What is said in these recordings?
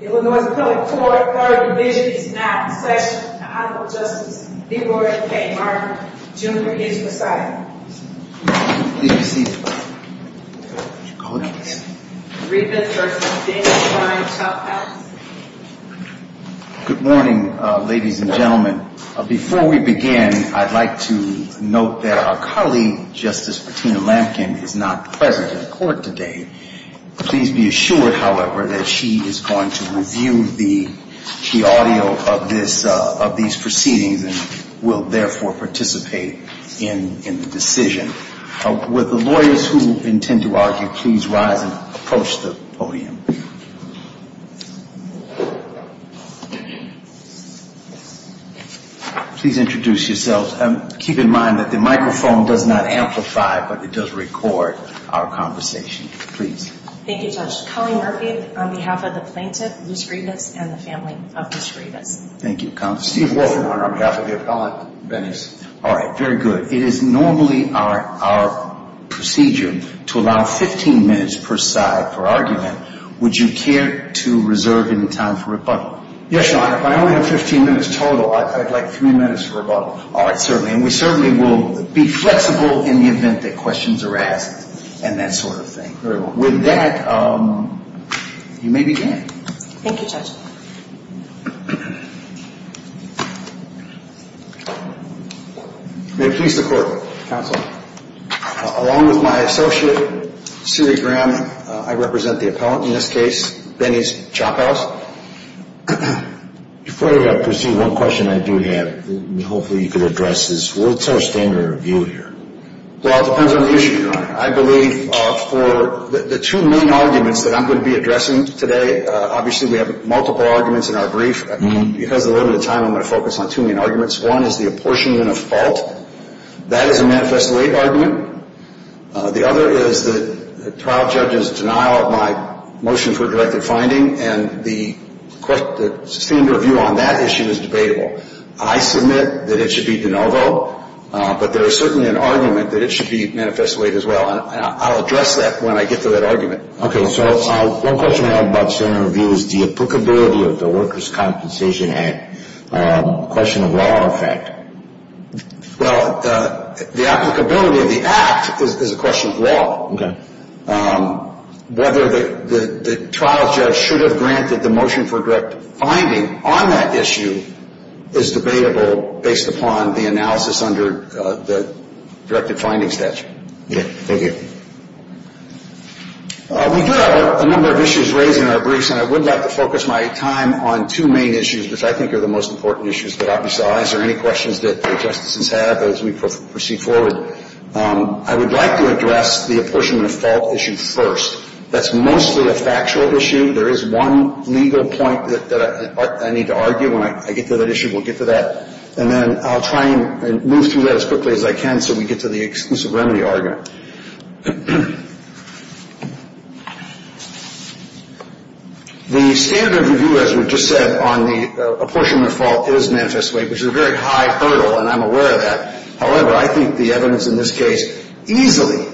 Good morning, ladies and gentlemen. Before we begin, I'd like to note that our colleague, Justice Martina Lampkin, is not present at court today. Please be assured, however, that she is going to be here at the end of the session. She is going to review the audio of these proceedings and will, therefore, participate in the decision. Would the lawyers who intend to argue please rise and approach the podium. Please introduce yourselves. Keep in mind that the microphone does not amplify, but it does record our conversation. Please. Thank you, Judge. Colleen Murphy, on behalf of the plaintiff, Luce Rivas, and the family of Luce Rivas. Thank you, Counsel. Steve Wolfman, on behalf of the appellant, Benny's. All right, very good. It is normally our procedure to allow 15 minutes per side for argument. Would you care to reserve any time for rebuttal? Yes, Your Honor. If I only have 15 minutes total, I'd like three minutes for rebuttal. All right, certainly. And we certainly will be flexible in the event that questions are asked and that sort of thing. Very well. With that, you may begin. Thank you, Judge. May it please the Court, Counsel. Along with my associate, Siri Graham, I represent the appellant in this case, Benny's Chophouse. Before we proceed, one question I do have, and hopefully you can address this. What's our standard review here? Well, it depends on the issue, Your Honor. I believe for the two main arguments that I'm going to be addressing today, obviously we have multiple arguments in our brief. Because of the limited time, I'm going to focus on two main arguments. One is the apportionment of fault. That is a manifest late argument. The other is the trial judge's denial of my motion for directed finding, and the standard review on that issue is debatable. I submit that it should be de novo, but there is certainly an argument that it should be manifest late as well. And I'll address that when I get to that argument. Okay. So one question I have about standard review is the applicability of the Workers' Compensation Act. A question of law, in fact. Well, the applicability of the Act is a question of law. Okay. Whether the trial judge should have granted the motion for directed finding on that issue is debatable based upon the analysis under the directed finding statute. Okay. Thank you. We do have a number of issues raised in our briefs, and I would like to focus my time on two main issues, which I think are the most important issues that I saw. Is there any questions that the Justices have as we proceed forward? I would like to address the apportionment of fault issue first. That's mostly a factual issue. There is one legal point that I need to argue. When I get to that issue, we'll get to that. And then I'll try and move through that as quickly as I can so we get to the exclusive remedy argument. The standard review, as we just said, on the apportionment of fault is manifest late, which is a very high hurdle, and I'm aware of that. However, I think the evidence in this case easily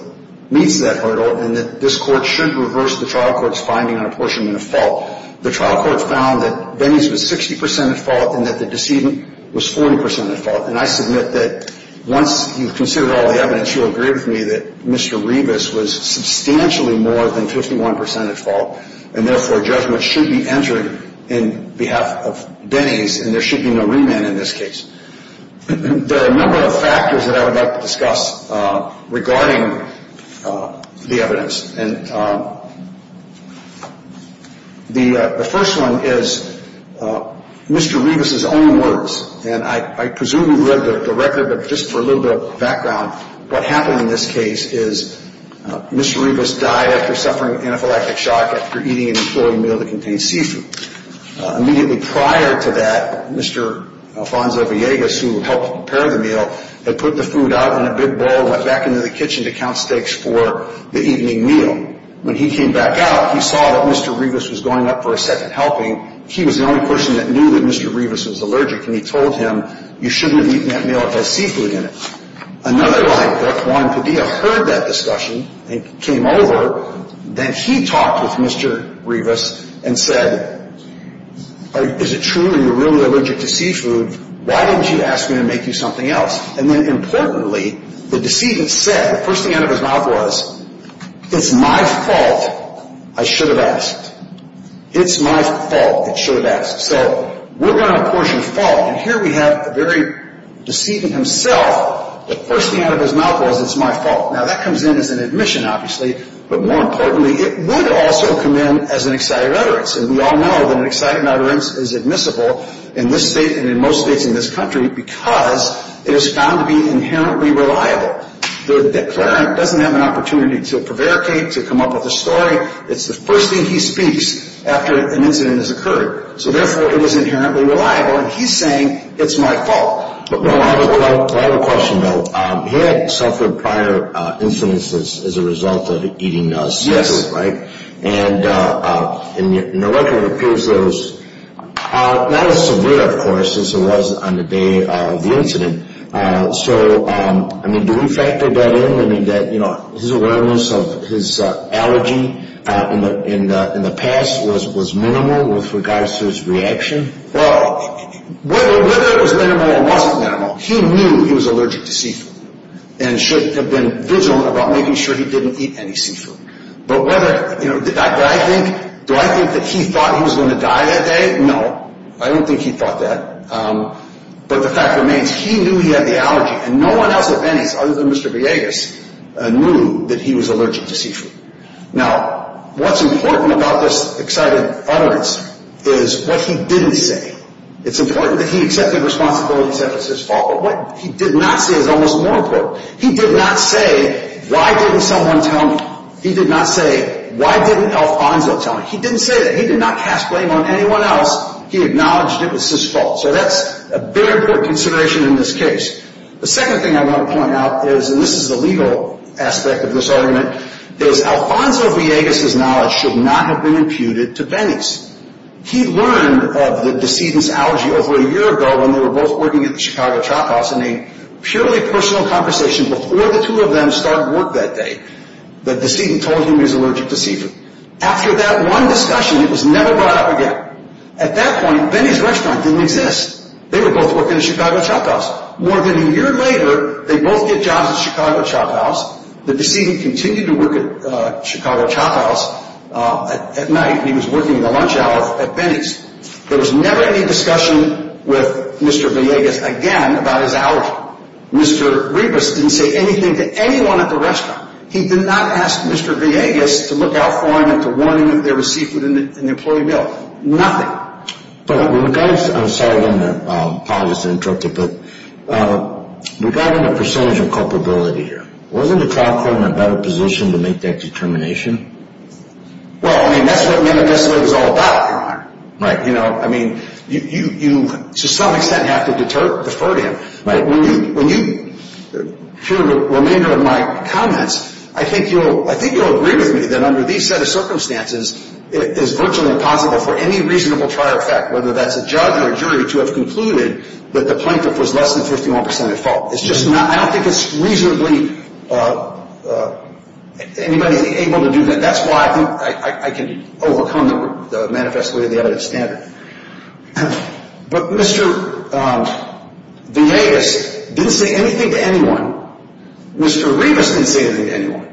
meets that hurdle and that this Court should reverse the trial court's finding on apportionment of fault. The trial court found that Denny's was 60 percent at fault and that the decedent was 40 percent at fault. And I submit that once you've considered all the evidence, you'll agree with me that Mr. Revis was substantially more than 51 percent at fault, and therefore judgment should be entered in behalf of Denny's and there should be no remand in this case. There are a number of factors that I would like to discuss regarding the evidence. And the first one is Mr. Revis's own words. And I presume you've read the record, but just for a little bit of background, what happened in this case is Mr. Revis died after suffering anaphylactic shock after eating an employee meal that contained seafood. Immediately prior to that, Mr. Alfonso Villegas, who helped prepare the meal, had put the food out in a big bowl and went back into the kitchen to count steaks for the evening meal. When he came back out, he saw that Mr. Revis was going up for a second helping. He was the only person that knew that Mr. Revis was allergic, and he told him, you shouldn't have eaten that meal. It had seafood in it. Another lie detector, Juan Padilla, heard that discussion and came over. Then he talked with Mr. Revis and said, is it true that you're really allergic to seafood? Why didn't you ask me to make you something else? And then importantly, the decedent said, the first thing out of his mouth was, it's my fault, I should have asked. It's my fault, I should have asked. So we're going to apportion fault, and here we have the very decedent himself. The first thing out of his mouth was, it's my fault. Now that comes in as an admission, obviously, but more importantly, it would also come in as an excited utterance. And we all know that an excited utterance is admissible in this state and in most states in this country because it is found to be inherently reliable. The declarant doesn't have an opportunity to prevaricate, to come up with a story. It's the first thing he speaks after an incident has occurred. So therefore, it is inherently reliable, and he's saying, it's my fault. Well, I have a question, though. He had suffered prior incidents as a result of eating seafood, right? And the record appears that it was not as severe, of course, as it was on the day of the incident. So, I mean, do we factor that in? Do we mean that, you know, his awareness of his allergy in the past was minimal with regards to his reaction? Well, whether it was minimal or wasn't minimal, he knew he was allergic to seafood and should have been vigilant about making sure he didn't eat any seafood. But whether, you know, do I think that he thought he was going to die that day? No, I don't think he thought that. But the fact remains, he knew he had the allergy, and no one else, if any, other than Mr. Villegas, knew that he was allergic to seafood. Now, what's important about this excited utterance is what he didn't say. It's important that he accepted responsibility and said it was his fault, but what he did not say is almost more important. He did not say, why didn't someone tell me? He did not say, why didn't Alfonso tell me? He didn't say that. He did not cast blame on anyone else. He acknowledged it was his fault. So that's a very important consideration in this case. The second thing I want to point out is, and this is the legal aspect of this argument, is Alfonso Villegas' knowledge should not have been imputed to Benny's. He learned of the decedent's allergy over a year ago when they were both working at the Chicago chop-off in a purely personal conversation before the two of them started work that day. The decedent told him he was allergic to seafood. After that one discussion, it was never brought up again. At that point, Benny's restaurant didn't exist. They were both working at the Chicago chop-off. More than a year later, they both get jobs at the Chicago chop-off. The decedent continued to work at the Chicago chop-off at night. He was working the lunch hour at Benny's. There was never any discussion with Mr. Villegas again about his allergy. Mr. Ribas didn't say anything to anyone at the restaurant. He did not ask Mr. Villegas to look out for him and to warn him that there was seafood in the employee meal. Nothing. I'm sorry to interrupt you, but regarding the percentage of culpability here, wasn't the trial court in a better position to make that determination? Well, I mean, that's what this is all about, Your Honor. Right. You know, I mean, to some extent you have to defer to him. Right. When you hear the remainder of my comments, I think you'll agree with me that under these set of circumstances it is virtually impossible for any reasonable trial effect, whether that's a judge or a jury, to have concluded that the plaintiff was less than 51% at fault. It's just not—I don't think it's reasonably—anybody's able to do that. That's why I think I can overcome the manifesto of the evidence standard. But Mr. Villegas didn't say anything to anyone. Mr. Ribas didn't say anything to anyone.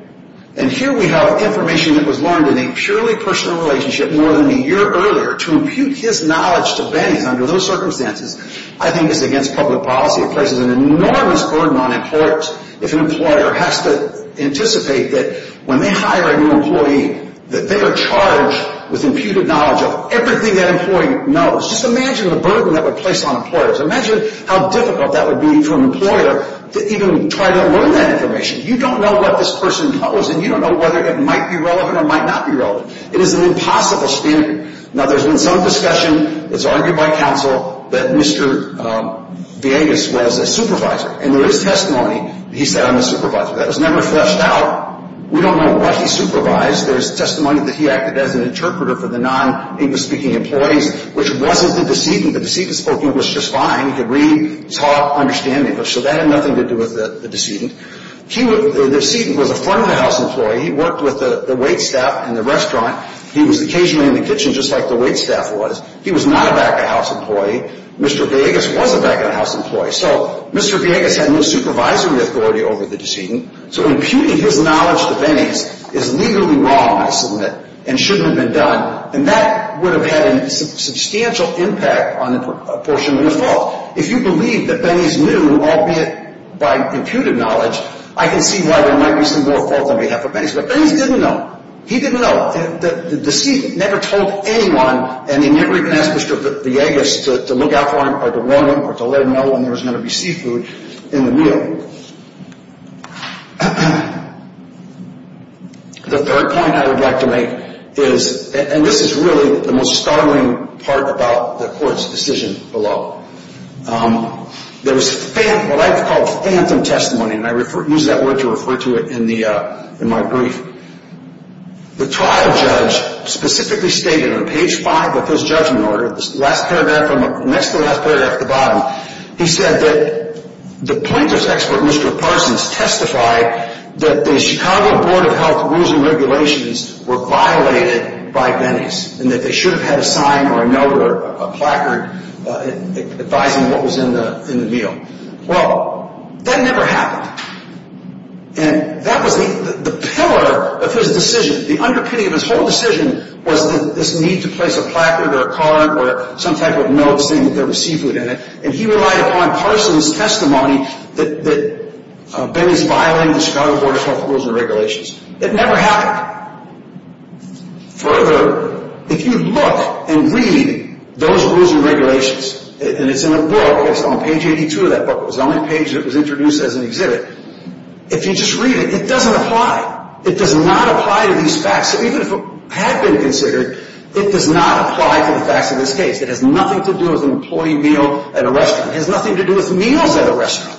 And here we have information that was learned in a purely personal relationship more than a year earlier. To impute his knowledge to Benny under those circumstances, I think is against public policy. It places an enormous burden on a court if an employer has to anticipate that when they hire a new employee that they are charged with imputed knowledge of everything that employee knows. Just imagine the burden that would place on employers. Imagine how difficult that would be for an employer to even try to learn that information. You don't know what this person knows, and you don't know whether it might be relevant or might not be relevant. It is an impossible standard. Now, there's been some discussion—it's argued by counsel— that Mr. Villegas was a supervisor. And there is testimony that he said, I'm a supervisor. That was never fleshed out. We don't know what he supervised. There's testimony that he acted as an interpreter for the non-English-speaking employees, which wasn't the decedent. The decedent spoke English just fine. He could read, talk, understand English. So that had nothing to do with the decedent. The decedent was a front-of-the-house employee. He worked with the waitstaff in the restaurant. He was occasionally in the kitchen, just like the waitstaff was. He was not a back-of-the-house employee. Mr. Villegas was a back-of-the-house employee. So Mr. Villegas had no supervisory authority over the decedent. So imputing his knowledge to Benny's is legally wrong, I submit, and shouldn't have been done. And that would have had a substantial impact on a portion of his fault. If you believe that Benny's knew, albeit by imputed knowledge, I can see why there might be some more fault on behalf of Benny's. But Benny's didn't know. He didn't know. The decedent never told anyone, and he never even asked Mr. Villegas to look out for him or to warn him or to let him know when there was going to be seafood in the meal. The third point I would like to make is, and this is really the most startling part about the court's decision below. There was what I call phantom testimony, and I use that word to refer to it in my brief. The trial judge specifically stated on page 5 of his judgment order, next to the last paragraph at the bottom, he said that the plaintiff's expert, Mr. Parsons, that the Chicago Board of Health Rules and Regulations were violated by Benny's and that they should have had a sign or a note or a placard advising what was in the meal. Well, that never happened. And that was the pillar of his decision. The underpinning of his whole decision was this need to place a placard or a card or some type of note saying that there was seafood in it. And he relied upon Parsons' testimony that Benny's violating the Chicago Board of Health Rules and Regulations. It never happened. Further, if you look and read those rules and regulations, and it's in a book, it's on page 82 of that book. It was the only page that was introduced as an exhibit. If you just read it, it doesn't apply. It does not apply to these facts. Even if it had been considered, it does not apply to the facts of this case. It has nothing to do with an employee meal at a restaurant. It has nothing to do with meals at a restaurant.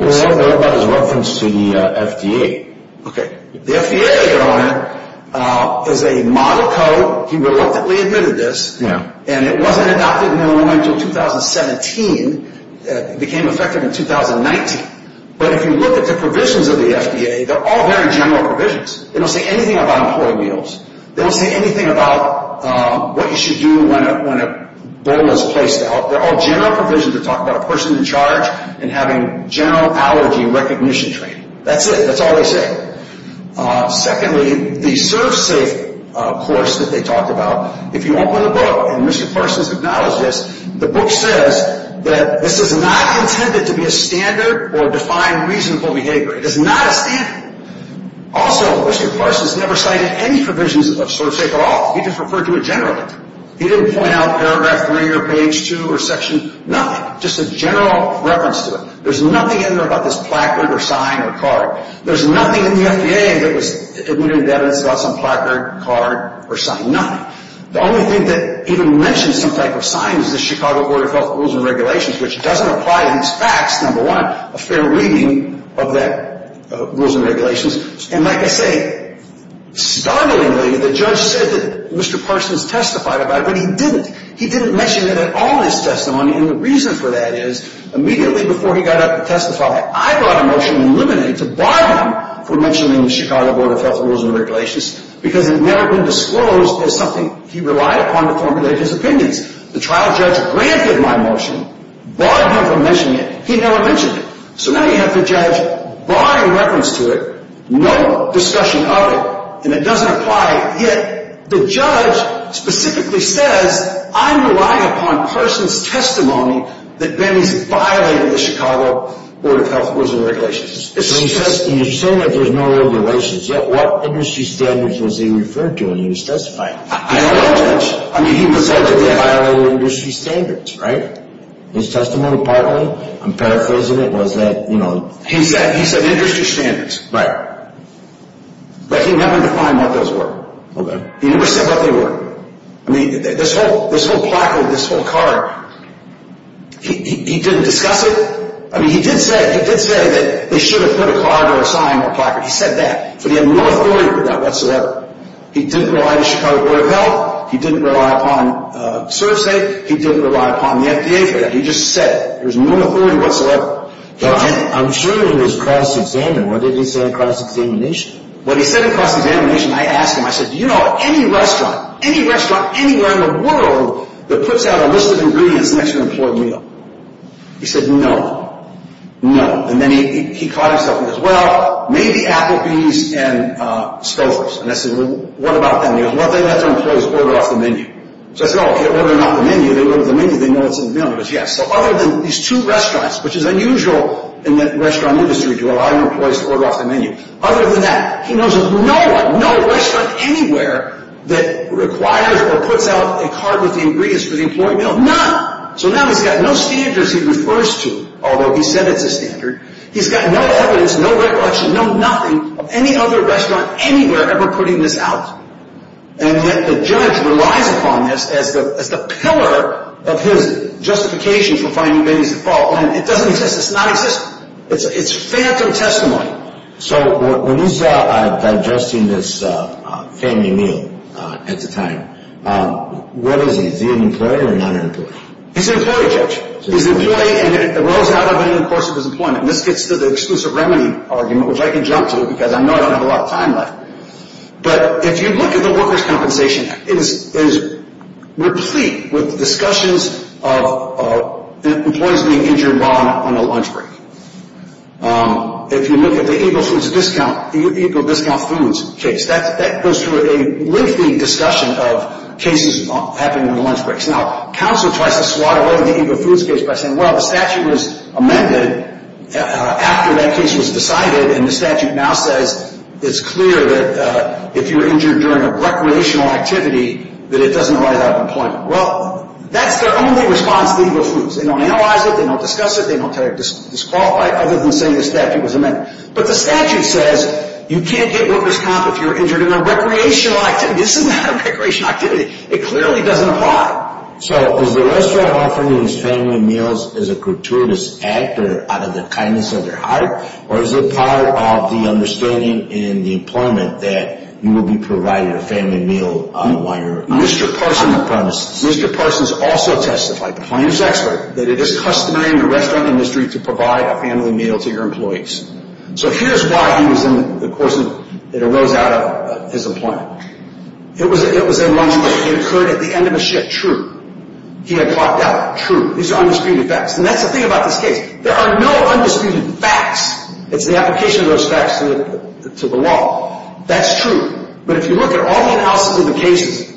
Well, what about his reference to the FDA? Okay. The FDA, Your Honor, is a model code. He reluctantly admitted this. Yeah. And it wasn't adopted until 2017. It became effective in 2019. But if you look at the provisions of the FDA, they're all very general provisions. They don't say anything about employee meals. They don't say anything about what you should do when a bowl is placed out. They're all general provisions that talk about a person in charge and having general allergy recognition training. That's it. That's all they say. Secondly, the serve safe course that they talked about, if you open the book and Mr. Parsons acknowledged this, the book says that this is not intended to be a standard or define reasonable behavior. It is not a standard. Also, Mr. Parsons never cited any provisions of serve safe at all. He just referred to it generally. He didn't point out paragraph 3 or page 2 or section, nothing, just a general reference to it. There's nothing in there about this placard or sign or card. There's nothing in the FDA that was admitted in evidence about some placard, card, or sign, nothing. The only thing that even mentions some type of sign is the Chicago Order of Health Rules and Regulations, which doesn't apply to these facts, number one, a fair reading of that Rules and Regulations. And like I say, startlingly, the judge said that Mr. Parsons testified about it, but he didn't. He didn't mention it at all in his testimony, and the reason for that is immediately before he got up to testify, I brought a motion in limine to bar him from mentioning the Chicago Order of Health Rules and Regulations because it had never been disclosed as something he relied upon to formulate his opinions. The trial judge granted my motion, barred him from mentioning it. He never mentioned it. So now you have the judge barring reference to it, no discussion of it, and it doesn't apply, yet the judge specifically says I'm relying upon Parsons' testimony that Benny's violated the Chicago Order of Health Rules and Regulations. So you're saying that there's no regulations, yet what industry standards was he referred to when he was testifying? I don't know, Judge. I mean, he was said to have violated industry standards, right? His testimony, partly, I'm paraphrasing it, was that, you know. He said industry standards. Right. But he never defined what those were. Okay. He never said what they were. I mean, this whole placard, this whole card, he didn't discuss it? I mean, he did say that they should have put a card or a sign on the placard. He said that, but he had no authority for that whatsoever. He didn't rely on the Chicago Order of Health. He didn't rely upon ServSafe. He didn't rely upon the FDA for that. He just said it. There was no authority whatsoever. I'm sure it was cross-examined. What did he say in cross-examination? What he said in cross-examination, I asked him, I said, do you know of any restaurant, any restaurant anywhere in the world, that puts out a list of ingredients next to an employee meal? He said no. No. And then he caught himself and goes, well, maybe Applebee's and Stouffer's. And I said, well, what about them? And he goes, well, they let their employees order off the menu. So I said, oh, they order off the menu. They order off the menu. They know what's in the menu. He goes, yes. So other than these two restaurants, which is unusual in the restaurant industry to allow your employees to order off the menu, other than that, he knows of no one, no restaurant anywhere that requires or puts out a card with the ingredients for the employee meal. None. So now he's got no standards he refers to, although he said it's a standard. He's got no evidence, no recollection, no nothing of any other restaurant anywhere ever putting this out. And yet the judge relies upon this as the pillar of his justification for finding babies at fault. And it doesn't exist. It's not existent. It's phantom testimony. So when he's digesting this family meal at the time, what is he? Is he an employee or not an employee? He's an employee, Judge. He's an employee, and it arose out of him in the course of his employment. And this gets to the exclusive remedy argument, which I can jump to because I know I don't have a lot of time left. But if you look at the Workers' Compensation Act, it is replete with discussions of employees being injured while on a lunch break. If you look at the Ego Discount Foods case, that goes through a lengthy discussion of cases happening on lunch breaks. Now, counsel tries to swat away the Ego Foods case by saying, well, the statute was amended after that case was decided, and the statute now says it's clear that if you're injured during a recreational activity that it doesn't arise out of employment. Well, that's their only response to Ego Foods. They don't analyze it. They don't discuss it. They don't disqualify it other than saying the statute was amended. But the statute says you can't get workers' comp if you're injured in a recreational activity. This is not a recreational activity. It clearly doesn't apply. So is the restaurant offering these family meals as a gratuitous act or out of the kindness of their heart? Or is it part of the understanding in the employment that you will be provided a family meal while you're on the premises? Mr. Parsons also testified. He was an expert. That it is customary in the restaurant industry to provide a family meal to your employees. So here's why he was in the course of it arose out of his employment. It was a lunch break. It occurred at the end of a shift. True. He had clocked out. True. These are undisputed facts. And that's the thing about this case. There are no undisputed facts. It's the application of those facts to the law. That's true. But if you look at all the analysis of the cases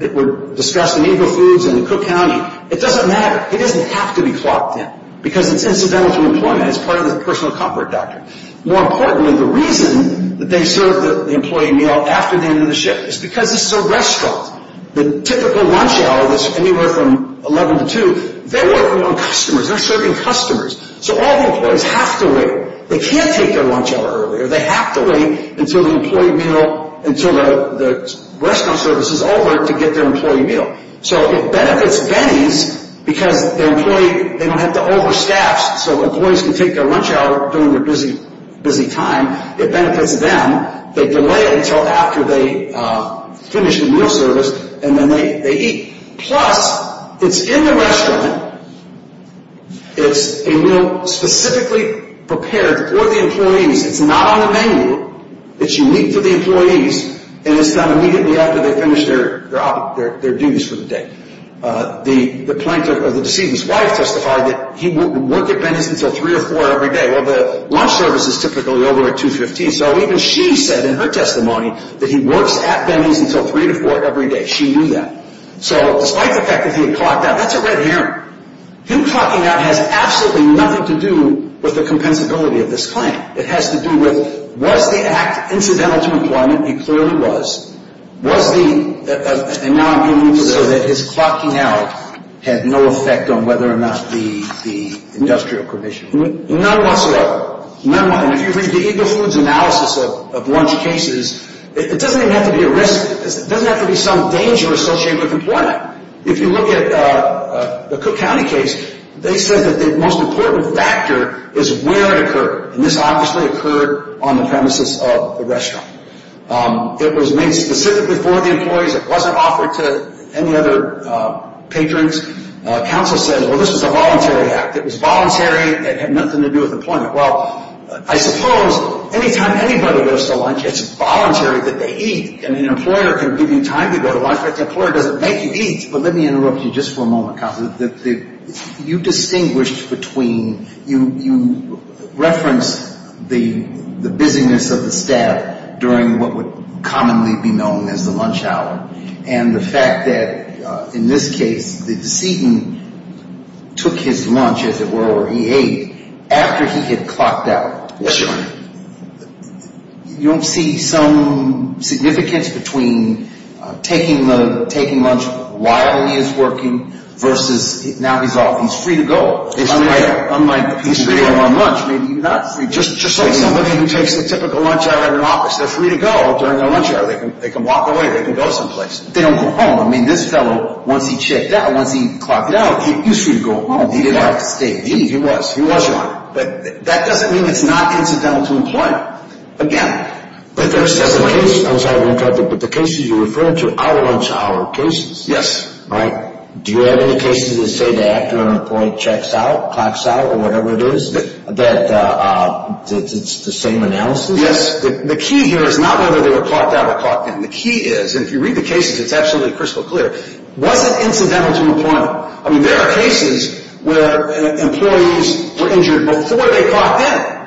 that were discussed in Eagle Foods and Cook County, it doesn't matter. It doesn't have to be clocked in because it's incidental to employment. It's part of the personal comfort doctrine. More importantly, the reason that they serve the employee meal after the end of the shift is because this is a restaurant. The typical lunch hour that's anywhere from 11 to 2, they're working on customers. They're serving customers. So all the employees have to wait. They can't take their lunch hour earlier. They have to wait until the employee meal, until the restaurant service is over to get their employee meal. So it benefits Venny's because their employee, they don't have to over staff so employees can take their lunch hour during their busy time. It benefits them. They delay it until after they finish the meal service, and then they eat. Plus, it's in the restaurant. It's a meal specifically prepared for the employees. It's not on the menu. It's unique to the employees, and it's done immediately after they finish their duties for the day. The plaintiff or the deceased's wife testified that he wouldn't work at Venny's until 3 or 4 every day. Well, the lunch service is typically over at 2.15, so even she said in her testimony that he works at Venny's until 3 or 4 every day. She knew that. So despite the fact that he had clocked out, that's a red herring. Him clocking out has absolutely nothing to do with the compensability of this claim. It has to do with, was the act incidental to employment? It clearly was. Was the, and now I'm getting into this, so that his clocking out had no effect on whether or not the industrial permission? None whatsoever. None whatsoever. And if you read the Eagle Foods analysis of lunch cases, it doesn't even have to be a risk. It doesn't have to be some danger associated with employment. If you look at the Cook County case, they said that the most important factor is where it occurred, and this obviously occurred on the premises of the restaurant. It was made specifically for the employees. It wasn't offered to any other patrons. Counsel said, well, this is a voluntary act. It was voluntary. It had nothing to do with employment. Well, I suppose any time anybody goes to lunch, it's voluntary that they eat. I mean, an employer can give you time to go to lunch, but the employer doesn't make you eat. But let me interrupt you just for a moment, Counsel. You distinguished between, you referenced the busyness of the staff during what would commonly be known as the lunch hour, and the fact that, in this case, the decedent took his lunch, as it were, or he ate, after he had clocked out. Yes, Your Honor. You don't see some significance between taking lunch while he is working versus now he's off. He's free to go. He's free to go. Unlike people who are on lunch, maybe he's not free to go. Just like somebody who takes the typical lunch hour in an office. They're free to go during their lunch hour. They can walk away. They can go someplace. They don't go home. I mean, this fellow, once he checked out, once he clocked out, he's free to go home. He didn't have to stay. He was. He was, Your Honor. But that doesn't mean it's not incidental to employment. Again. But the cases you're referring to are lunch hour cases. Yes. Right? Do you have any cases that say the actor on the point checks out, clocks out, or whatever it is, that it's the same analysis? Yes. The key here is not whether they were clocked out or clocked in. The key is, and if you read the cases, it's absolutely crystal clear, was it incidental to employment? I mean, there are cases where employees were injured before they clocked in.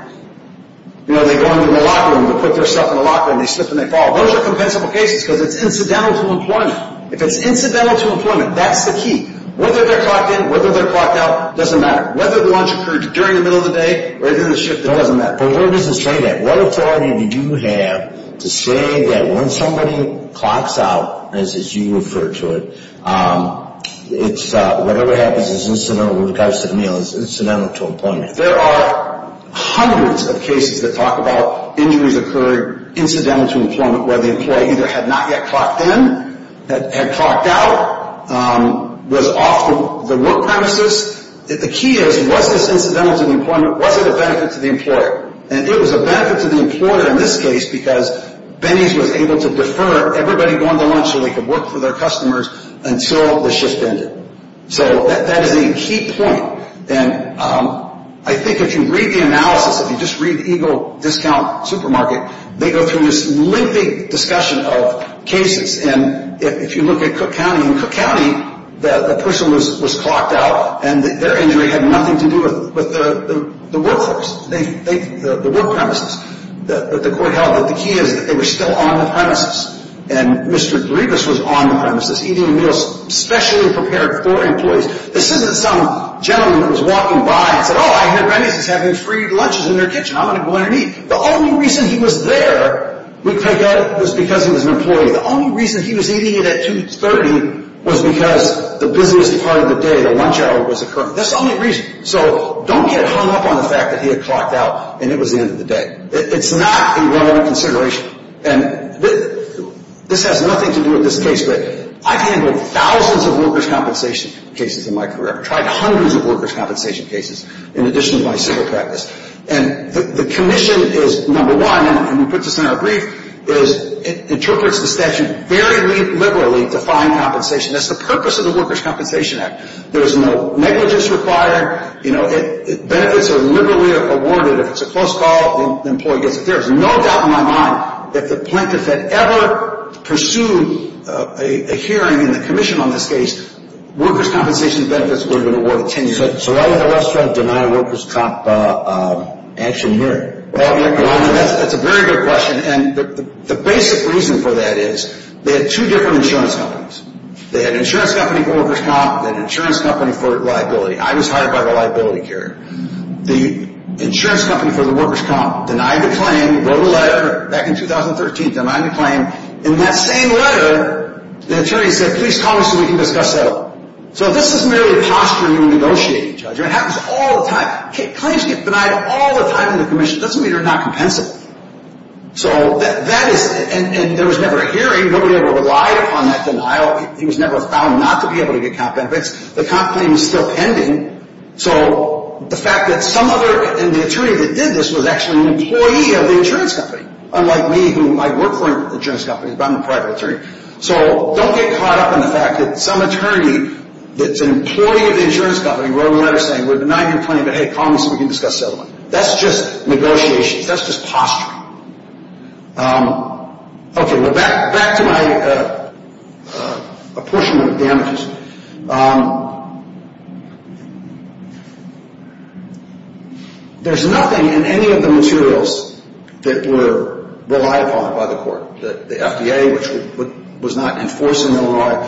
You know, they go into the locker room. They put their stuff in the locker room. They slip and they fall. Those are compensable cases because it's incidental to employment. If it's incidental to employment, that's the key. Whether they're clocked in, whether they're clocked out, doesn't matter. Whether the lunch occurred during the middle of the day or during the shift, it doesn't matter. But where does it say that? What authority do you have to say that when somebody clocks out, as you refer to it, whatever happens is incidental, regardless of the meal, is incidental to employment? There are hundreds of cases that talk about injuries occurring incidental to employment where the employee either had not yet clocked in, had clocked out, was off the work premises. The key is, was this incidental to employment? Was it a benefit to the employer? And it was a benefit to the employer in this case because Benny's was able to defer everybody going to lunch so they could work for their customers until the shift ended. So that is a key point. And I think if you read the analysis, if you just read Eagle Discount Supermarket, they go through this lengthy discussion of cases. And if you look at Cook County, in Cook County, the person was clocked out and their injury had nothing to do with the workforce, the work premises that the court held. But the key is that they were still on the premises. And Mr. Grievous was on the premises eating meals specially prepared for employees. This isn't some gentleman that was walking by and said, oh, I hear Benny's is having free lunches in their kitchen. I'm going to go in and eat. The only reason he was there was because he was an employee. The only reason he was eating it at 2.30 was because the busiest part of the day, the lunch hour, was occurring. That's the only reason. So don't get hung up on the fact that he had clocked out and it was the end of the day. It's not a relevant consideration. And this has nothing to do with this case, but I've handled thousands of workers' compensation cases in my career. I've tried hundreds of workers' compensation cases in addition to my civil practice. And the commission is number one, and we put this in our brief, is it interprets the statute very liberally to find compensation. That's the purpose of the Workers' Compensation Act. There is no negligence required. Benefits are liberally awarded. If it's a close call, the employee gets it. There is no doubt in my mind that if the plaintiff had ever pursued a hearing in the commission on this case, workers' compensation benefits would have been awarded 10 years later. So why would the West Front deny a workers' comp action hearing? Well, that's a very good question. And the basic reason for that is they had two different insurance companies. They had an insurance company for workers' comp and an insurance company for liability. I was hired by the liability carrier. The insurance company for the workers' comp denied the claim, wrote a letter back in 2013, denied the claim. In that same letter, the attorney said, please call us and we can discuss that. So this is merely a posture in negotiating, Judge. It happens all the time. Claims get denied all the time in the commission. It doesn't mean they're not compensated. So that is – and there was never a hearing. Nobody ever relied upon that denial. He was never found not to be able to get comp benefits. The comp claim is still pending. So the fact that some other – and the attorney that did this was actually an employee of the insurance company, unlike me, who might work for an insurance company, but I'm a private attorney. So don't get caught up in the fact that some attorney that's an employee of the insurance company wrote a letter saying, we're denying your claim, but hey, call us and we can discuss this other one. That's just negotiations. That's just posture. Okay. Back to my apportionment of damages. There's nothing in any of the materials that were relied upon by the court. The FDA, which was not enforcing the law,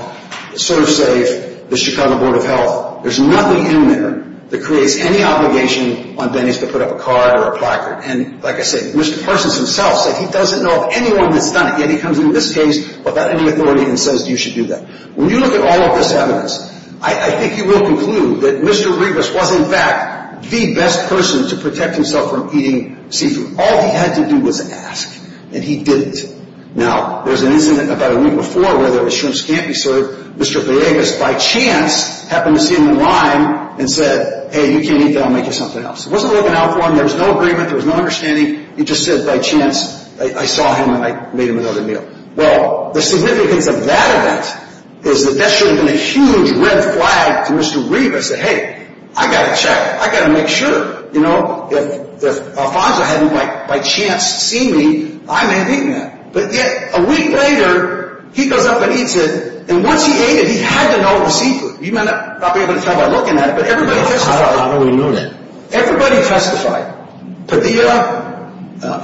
Serve Safe, the Chicago Board of Health. There's nothing in there that creates any obligation on Denny's to put up a card or a placard. And like I said, Mr. Parsons himself said he doesn't know of anyone that's done it, yet he comes into this case without any authority and says you should do that. When you look at all of this evidence, I think you will conclude that Mr. Rebus was, in fact, the best person to protect himself from eating seafood. All he had to do was ask, and he didn't. Now, there was an incident about a week before where the shrimps can't be served. Mr. Villegas, by chance, happened to see him in line and said, hey, you can't eat that. I'll make you something else. He wasn't looking out for him. There was no agreement. There was no understanding. He just said, by chance, I saw him and I made him another meal. Well, the significance of that event is that that should have been a huge red flag to Mr. Rebus, who said, hey, I've got to check. I've got to make sure. If Alfonso hadn't, by chance, seen me, I may have eaten that. But yet, a week later, he goes up and eats it, and once he ate it, he had to know the seafood. You may not be able to tell by looking at it, but everybody testified. I don't really know that. Everybody testified, Padilla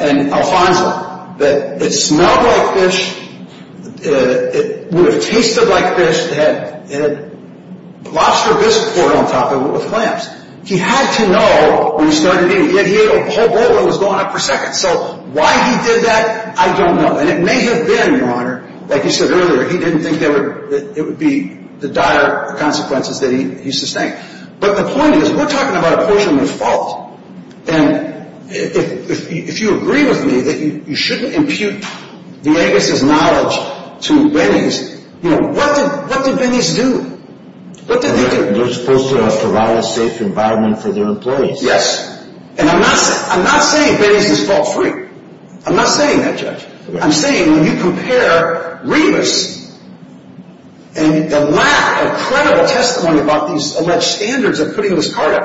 and Alfonso, that it smelled like fish. It tasted like fish that had lobster bisque poured on top of it with clams. He had to know when he started eating it. He ate a whole bowl and it was going up per second. So why he did that, I don't know. And it may have been, Your Honor, like you said earlier, he didn't think it would be the dire consequences that he sustained. But the point is, we're talking about a portion of his fault. And if you agree with me that you shouldn't impute Villegas' knowledge to Binney's, what did Binney's do? They're supposed to provide a safe environment for their employees. Yes. And I'm not saying Binney's is fault-free. I'm not saying that, Judge. I'm saying when you compare Remus and the lack of credible testimony about these alleged standards of putting this card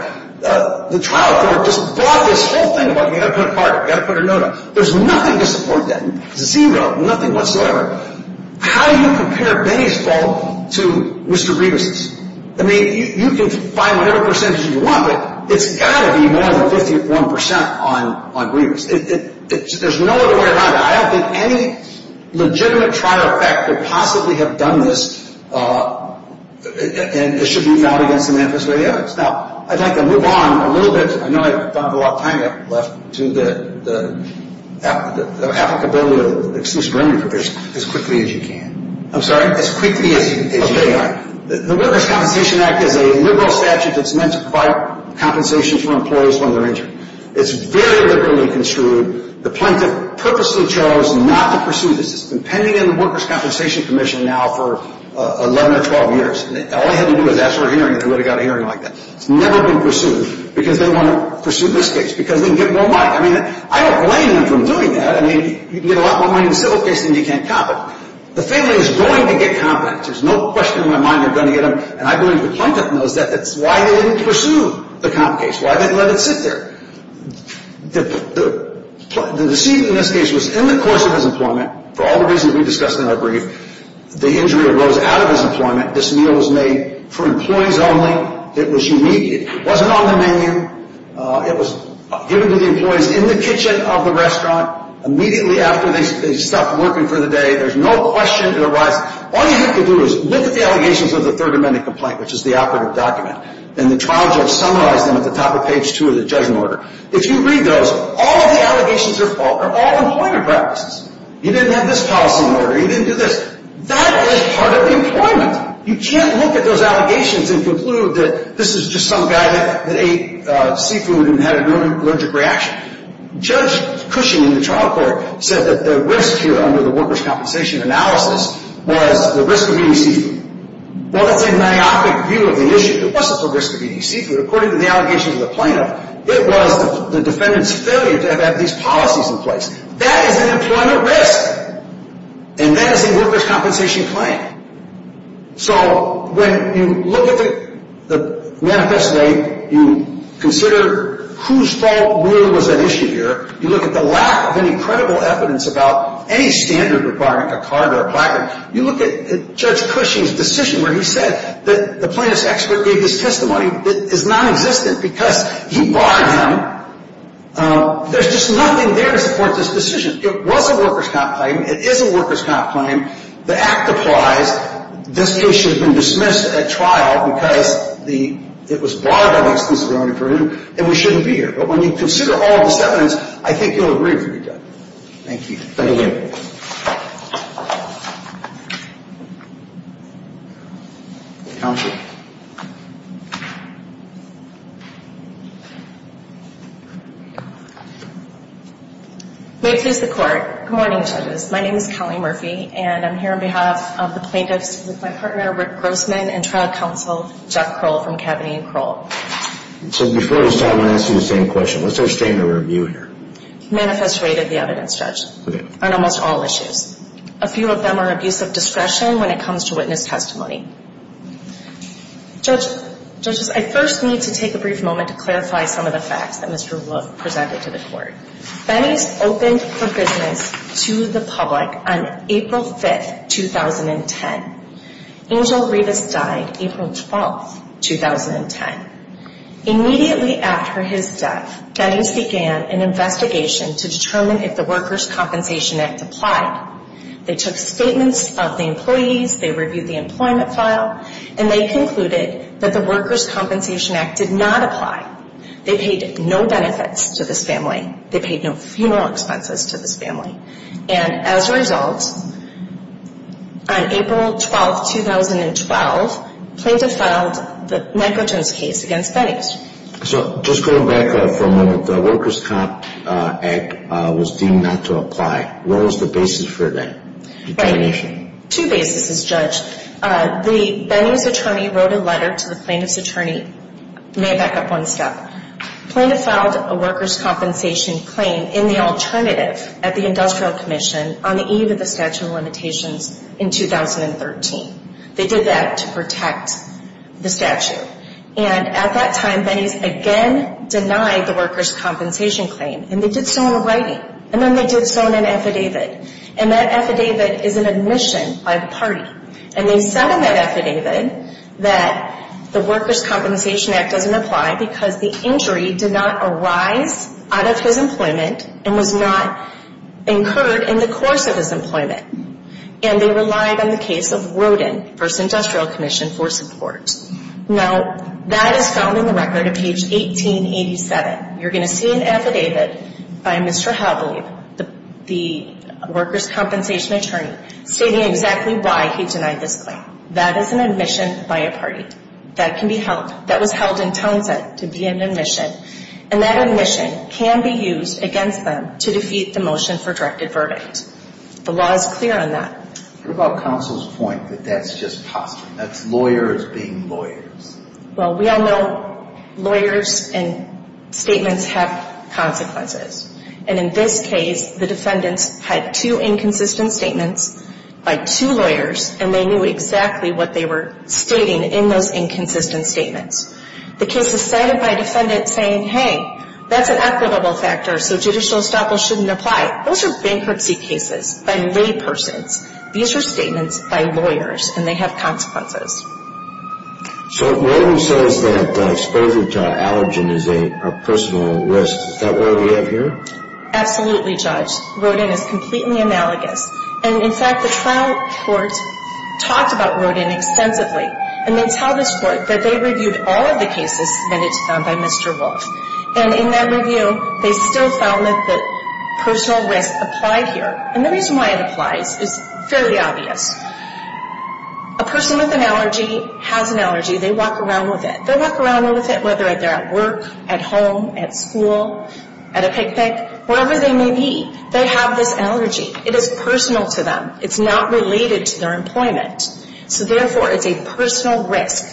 up, the trial court just brought this whole thing about you've got to put a card up, you've got to put a note up. There's nothing to support that. Nothing whatsoever. How do you compare Binney's fault to Mr. Remus's? I mean, you can find whatever percentage you want, but it's got to be more than 51% on Remus. There's no other way around it. I don't think any legitimate trial effect would possibly have done this, and it should be filed against the manifesto evidence. Now, I'd like to move on a little bit. I know I don't have a lot of time left to the applicable bill, excuse me, remand provision, as quickly as you can. I'm sorry? As quickly as you can. The Workers' Compensation Act is a liberal statute that's meant to provide compensation for employees when they're injured. It's very liberally construed. The plaintiff purposely chose not to pursue this. It's been pending in the Workers' Compensation Commission now for 11 or 12 years. All they had to do was ask for a hearing, and they would have got a hearing like that. It's never been pursued, because they want to pursue this case, because they can get more money. I mean, I don't blame them for doing that. I mean, you can get a lot more money in a civil case than you can in a comp act. The family is going to get comp acts. There's no question in my mind they're going to get them, and I believe the plaintiff knows that. That's why they didn't pursue the comp case. Why they didn't let it sit there. The deceit in this case was in the course of his employment, for all the reasons we discussed in our brief. The injury arose out of his employment. This meal was made for employees only. It was immediate. It wasn't on the menu. It was given to the employees in the kitchen of the restaurant immediately after they stopped working for the day. There's no question it arises. All you have to do is look at the allegations of the Third Amendment complaint, which is the operative document, and the trial judge summarized them at the top of page 2 of the judgment order. If you read those, all of the allegations are all employment practices. You didn't have this policy in order. You didn't do this. That is part of the employment. You can't look at those allegations and conclude that this is just some guy that ate seafood and had an allergic reaction. Judge Cushing in the trial court said that the risk here under the workers' compensation analysis was the risk of eating seafood. Well, that's a myopic view of the issue. It wasn't the risk of eating seafood. According to the allegations of the plaintiff, it was the defendant's failure to have had these policies in place. That is an employment risk, and that is a workers' compensation claim. So when you look at the manifesto, you consider whose fault really was at issue here. You look at the lack of any credible evidence about any standard requirement, a card or a placard. You look at Judge Cushing's decision where he said that the plaintiff's expert gave this testimony that is nonexistent because he barred him. There's just nothing there to support this decision. It was a workers' comp claim. It is a workers' comp claim. The act applies. This case should have been dismissed at trial because it was barred by the exclusivity for whom, and we shouldn't be here. But when you consider all of this evidence, I think you'll agree with me, Judge. Thank you. Thank you. Thank you. Counsel. May it please the Court. Good morning, Judges. My name is Kelly Murphy, and I'm here on behalf of the plaintiffs with my partner, Rick Grossman, and Trial Counsel Jeff Kroll from Kavanagh and Kroll. So before we start, I want to ask you the same question. What's our statement of review here? Manifest rate of the evidence, Judge, on almost all issues. A few of them are abuse of discretion when it comes to witness testimony. Judges, I first need to take a brief moment to clarify some of the facts that Mr. Wolf presented to the Court. Benny's opened for business to the public on April 5, 2010. Angel Rivas died April 12, 2010. Immediately after his death, judges began an investigation to determine if the Workers' Compensation Act applied. They took statements of the employees, they reviewed the employment file, and they concluded that the Workers' Compensation Act did not apply. They paid no benefits to this family. They paid no funeral expenses to this family. And as a result, on April 12, 2012, plaintiff filed the Nyquilton's case against Benny's. So just going back for a moment, the Workers' Comp Act was deemed not to apply. What was the basis for that determination? Two bases, Judge. Benny's attorney wrote a letter to the plaintiff's attorney. May I back up one step? Plaintiff filed a workers' compensation claim in the alternative at the Industrial Commission on the eve of the statute of limitations in 2013. They did that to protect the statute. And at that time, Benny's again denied the workers' compensation claim. And they did so in writing. And then they did so in an affidavit. And that affidavit is an admission by the party. And they said in that affidavit that the Workers' Compensation Act doesn't apply because the injury did not arise out of his employment and was not incurred in the course of his employment. And they relied on the case of Rodin v. Industrial Commission for support. Now, that is found in the record at page 1887. You're going to see an affidavit by Mr. Havlib, the workers' compensation attorney, stating exactly why he denied this claim. That is an admission by a party. That can be held. That was held in Townsend to be an admission. And that admission can be used against them to defeat the motion for directed verdict. The law is clear on that. What about counsel's point that that's just costume, that's lawyers being lawyers? Well, we all know lawyers and statements have consequences. And in this case, the defendants had two inconsistent statements by two lawyers, and they knew exactly what they were stating in those inconsistent statements. The case is cited by a defendant saying, hey, that's an equitable factor, so judicial estoppel shouldn't apply. Those are bankruptcy cases by laypersons. These are statements by lawyers, and they have consequences. So Rodin says that exposure to allergen is a personal risk. Is that what we have here? Absolutely, Judge. Rodin is completely analogous. And, in fact, the trial court talked about Rodin extensively, and they tell this court that they reviewed all of the cases submitted to them by Mr. Wolf. And in that review, they still found that the personal risk applied here. And the reason why it applies is fairly obvious. A person with an allergy has an allergy. They walk around with it. They walk around with it whether they're at work, at home, at school, at a picnic, wherever they may be. They have this allergy. It is personal to them. It's not related to their employment. So, therefore, it's a personal risk,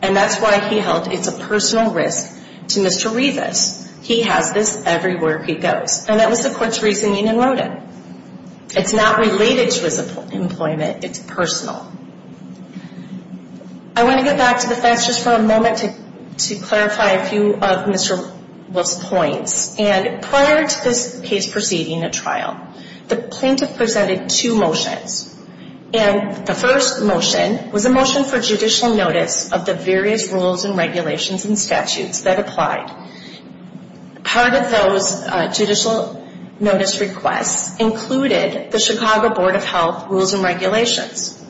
and that's why he held it's a personal risk to Mr. Revis. He has this everywhere he goes. And that was the court's reasoning in Rodin. It's not related to his employment. It's personal. I want to get back to the facts just for a moment to clarify a few of Mr. Wolf's points. And prior to this case proceeding at trial, the plaintiff presented two motions. And the first motion was a motion for judicial notice of the various rules and regulations and statutes that applied. Part of those judicial notice requests included the Chicago Board of Health rules and regulations.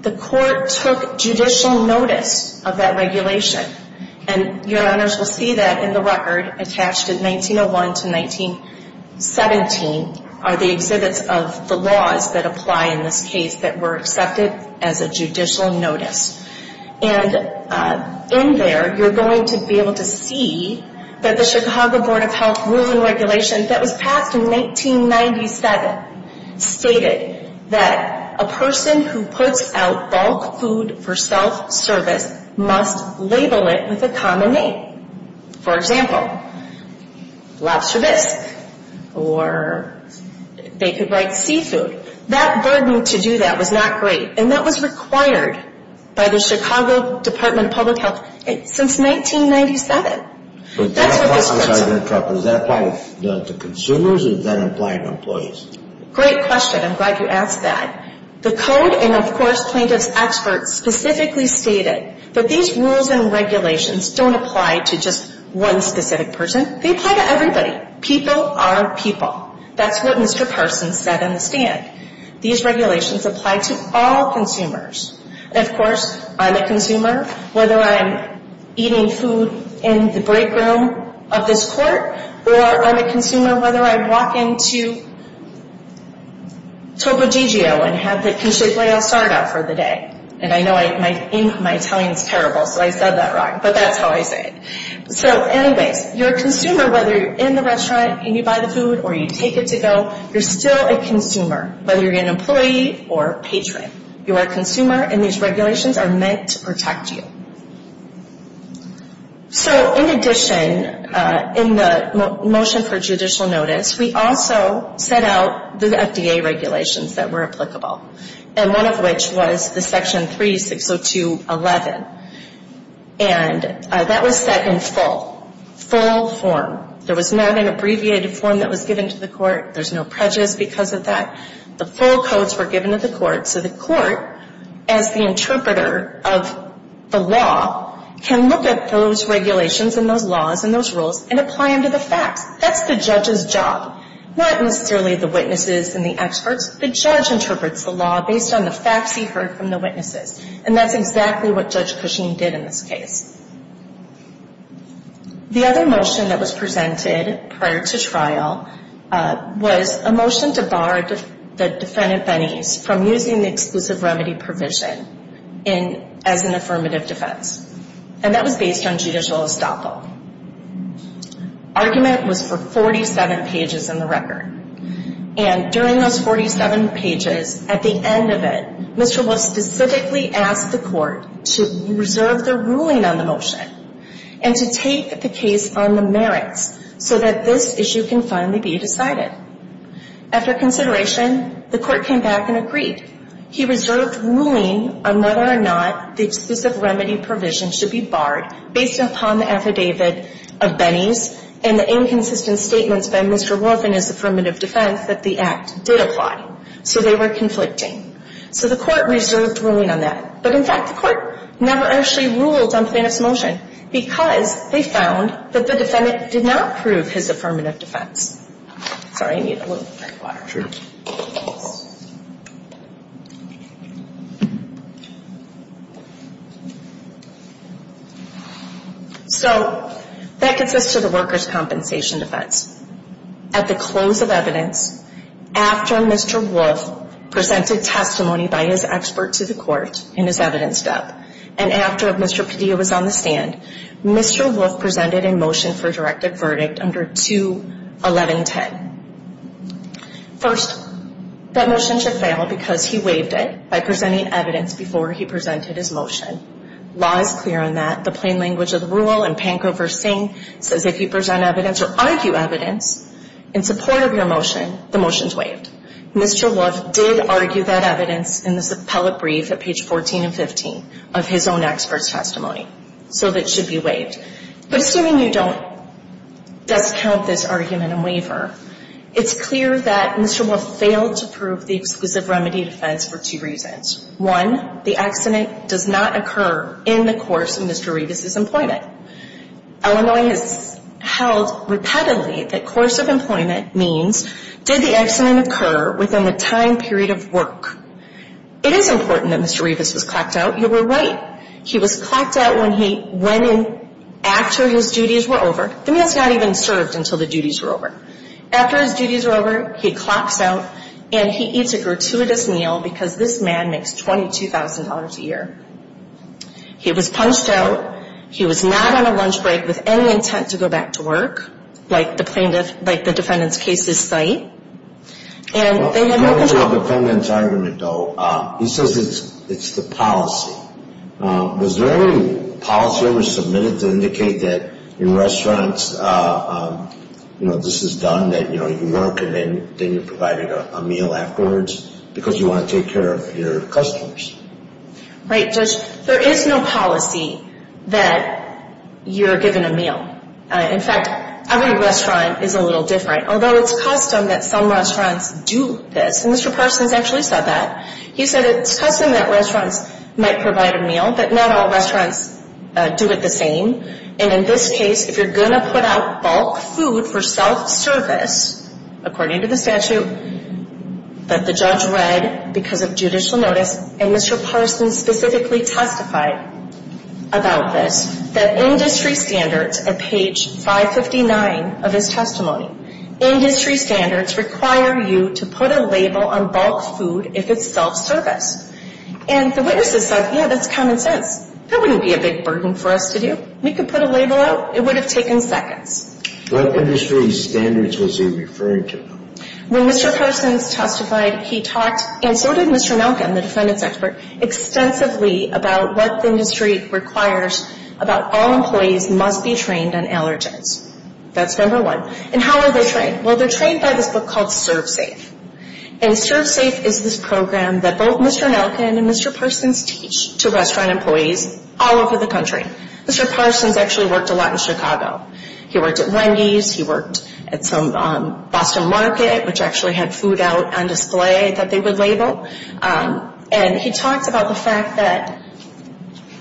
The court took judicial notice of that regulation. And your honors will see that in the record attached in 1901 to 1917 are the exhibits of the laws that apply in this case that were accepted as a judicial notice. And in there you're going to be able to see that the Chicago Board of Health rules and regulations that was passed in 1997 stated that a person who puts out bulk food for self-service must label it with a common name. For example, lobster bisque, or they could write seafood. That burden to do that was not great. And that was required by the Chicago Department of Public Health since 1997. That's what this person. I'm sorry to interrupt. Does that apply to consumers or does that apply to employees? Great question. I'm glad you asked that. The code and, of course, plaintiff's experts specifically stated that these rules and regulations don't apply to just one specific person. They apply to everybody. People are people. That's what Mr. Parsons said in the stand. These regulations apply to all consumers. And, of course, I'm a consumer whether I'm eating food in the break room of this court or I'm a consumer whether I walk into Topo Gigio and have the conchiglio start up for the day. And I know my Italian is terrible, so I said that wrong, but that's how I say it. So, anyways, you're a consumer whether you're in the restaurant and you buy the food or you take it to go. You're still a consumer whether you're an employee or a patron. You are a consumer, and these regulations are meant to protect you. So, in addition, in the motion for judicial notice, we also set out the FDA regulations that were applicable, and one of which was the Section 3602.11, and that was set in full, full form. There was not an abbreviated form that was given to the court. There's no prejudice because of that. The full codes were given to the court, so the court, as the interpreter of the law, can look at those regulations and those laws and those rules and apply them to the facts. That's the judge's job, not necessarily the witnesses and the experts. The judge interprets the law based on the facts he heard from the witnesses, and that's exactly what Judge Cushing did in this case. The other motion that was presented prior to trial was a motion to bar the defendant, Benes, from using the exclusive remedy provision as an affirmative defense, and that was based on judicial estoppel. Argument was for 47 pages in the record, and during those 47 pages, at the end of it, Mr. Wolf specifically asked the court to reserve their ruling on the motion and to take the case on the merits so that this issue can finally be decided. After consideration, the court came back and agreed. He reserved ruling on whether or not the exclusive remedy provision should be barred based upon the affidavit of Benes and the inconsistent statements by Mr. Wolf in his affirmative defense that the act did apply, so they were conflicting. So the court reserved ruling on that. But, in fact, the court never actually ruled on Benes' motion because they found that the defendant did not prove his affirmative defense. Sorry, I need a little bit more water. So that gets us to the workers' compensation defense. At the close of evidence, after Mr. Wolf presented testimony by his expert to the court in his evidence step, and after Mr. Padilla was on the stand, Mr. Wolf presented a motion for a directive verdict under 2-1110. First, that motion should fail because he waived it by presenting evidence before he presented his motion. Law is clear on that. The plain language of the rule in Panko v. Singh says if you present evidence or argue evidence in support of your motion, the motion is waived. Mr. Wolf did argue that evidence in this appellate brief at page 14 and 15 of his own expert's testimony, so it should be waived. Assuming you don't discount this argument and waiver, it's clear that Mr. Wolf failed to prove the exclusive remedy defense for two reasons. One, the accident does not occur in the course of Mr. Rivas' employment. Illinois has held repetitively that course of employment means did the accident occur within the time period of work. It is important that Mr. Rivas was clocked out. You were right. He was clocked out when he went in after his duties were over. The meal's not even served until the duties were over. After his duties were over, he clocks out, and he eats a gratuitous meal because this man makes $22,000 a year. He was punched out. He was not on a lunch break with any intent to go back to work, like the defendant's case is site. And they never got out. Going back to the defendant's argument, though, he says it's the policy. Was there any policy ever submitted to indicate that in restaurants, you know, this is done, that, you know, you work and then you're provided a meal afterwards because you want to take care of your customers? Right, Judge. There is no policy that you're given a meal. In fact, every restaurant is a little different, although it's custom that some restaurants do this. And Mr. Parsons actually said that. He said it's custom that restaurants might provide a meal, but not all restaurants do it the same. And in this case, if you're going to put out bulk food for self-service, according to the statute that the judge read because of judicial notice, and Mr. Parsons specifically testified about this, that industry standards at page 559 of his testimony, industry standards require you to put a label on bulk food if it's self-service. And the witnesses said, yeah, that's common sense. That wouldn't be a big burden for us to do. We could put a label out. It would have taken seconds. What industry standards was he referring to? When Mr. Parsons testified, he talked, and so did Mr. Nelkin, the defendant's expert, extensively about what the industry requires about all employees must be trained on allergens. That's number one. And how are they trained? Well, they're trained by this book called Serve Safe. And Serve Safe is this program that both Mr. Nelkin and Mr. Parsons teach to restaurant employees all over the country. Mr. Parsons actually worked a lot in Chicago. He worked at Wendy's. He worked at some Boston Market, which actually had food out on display that they would label. And he talked about the fact that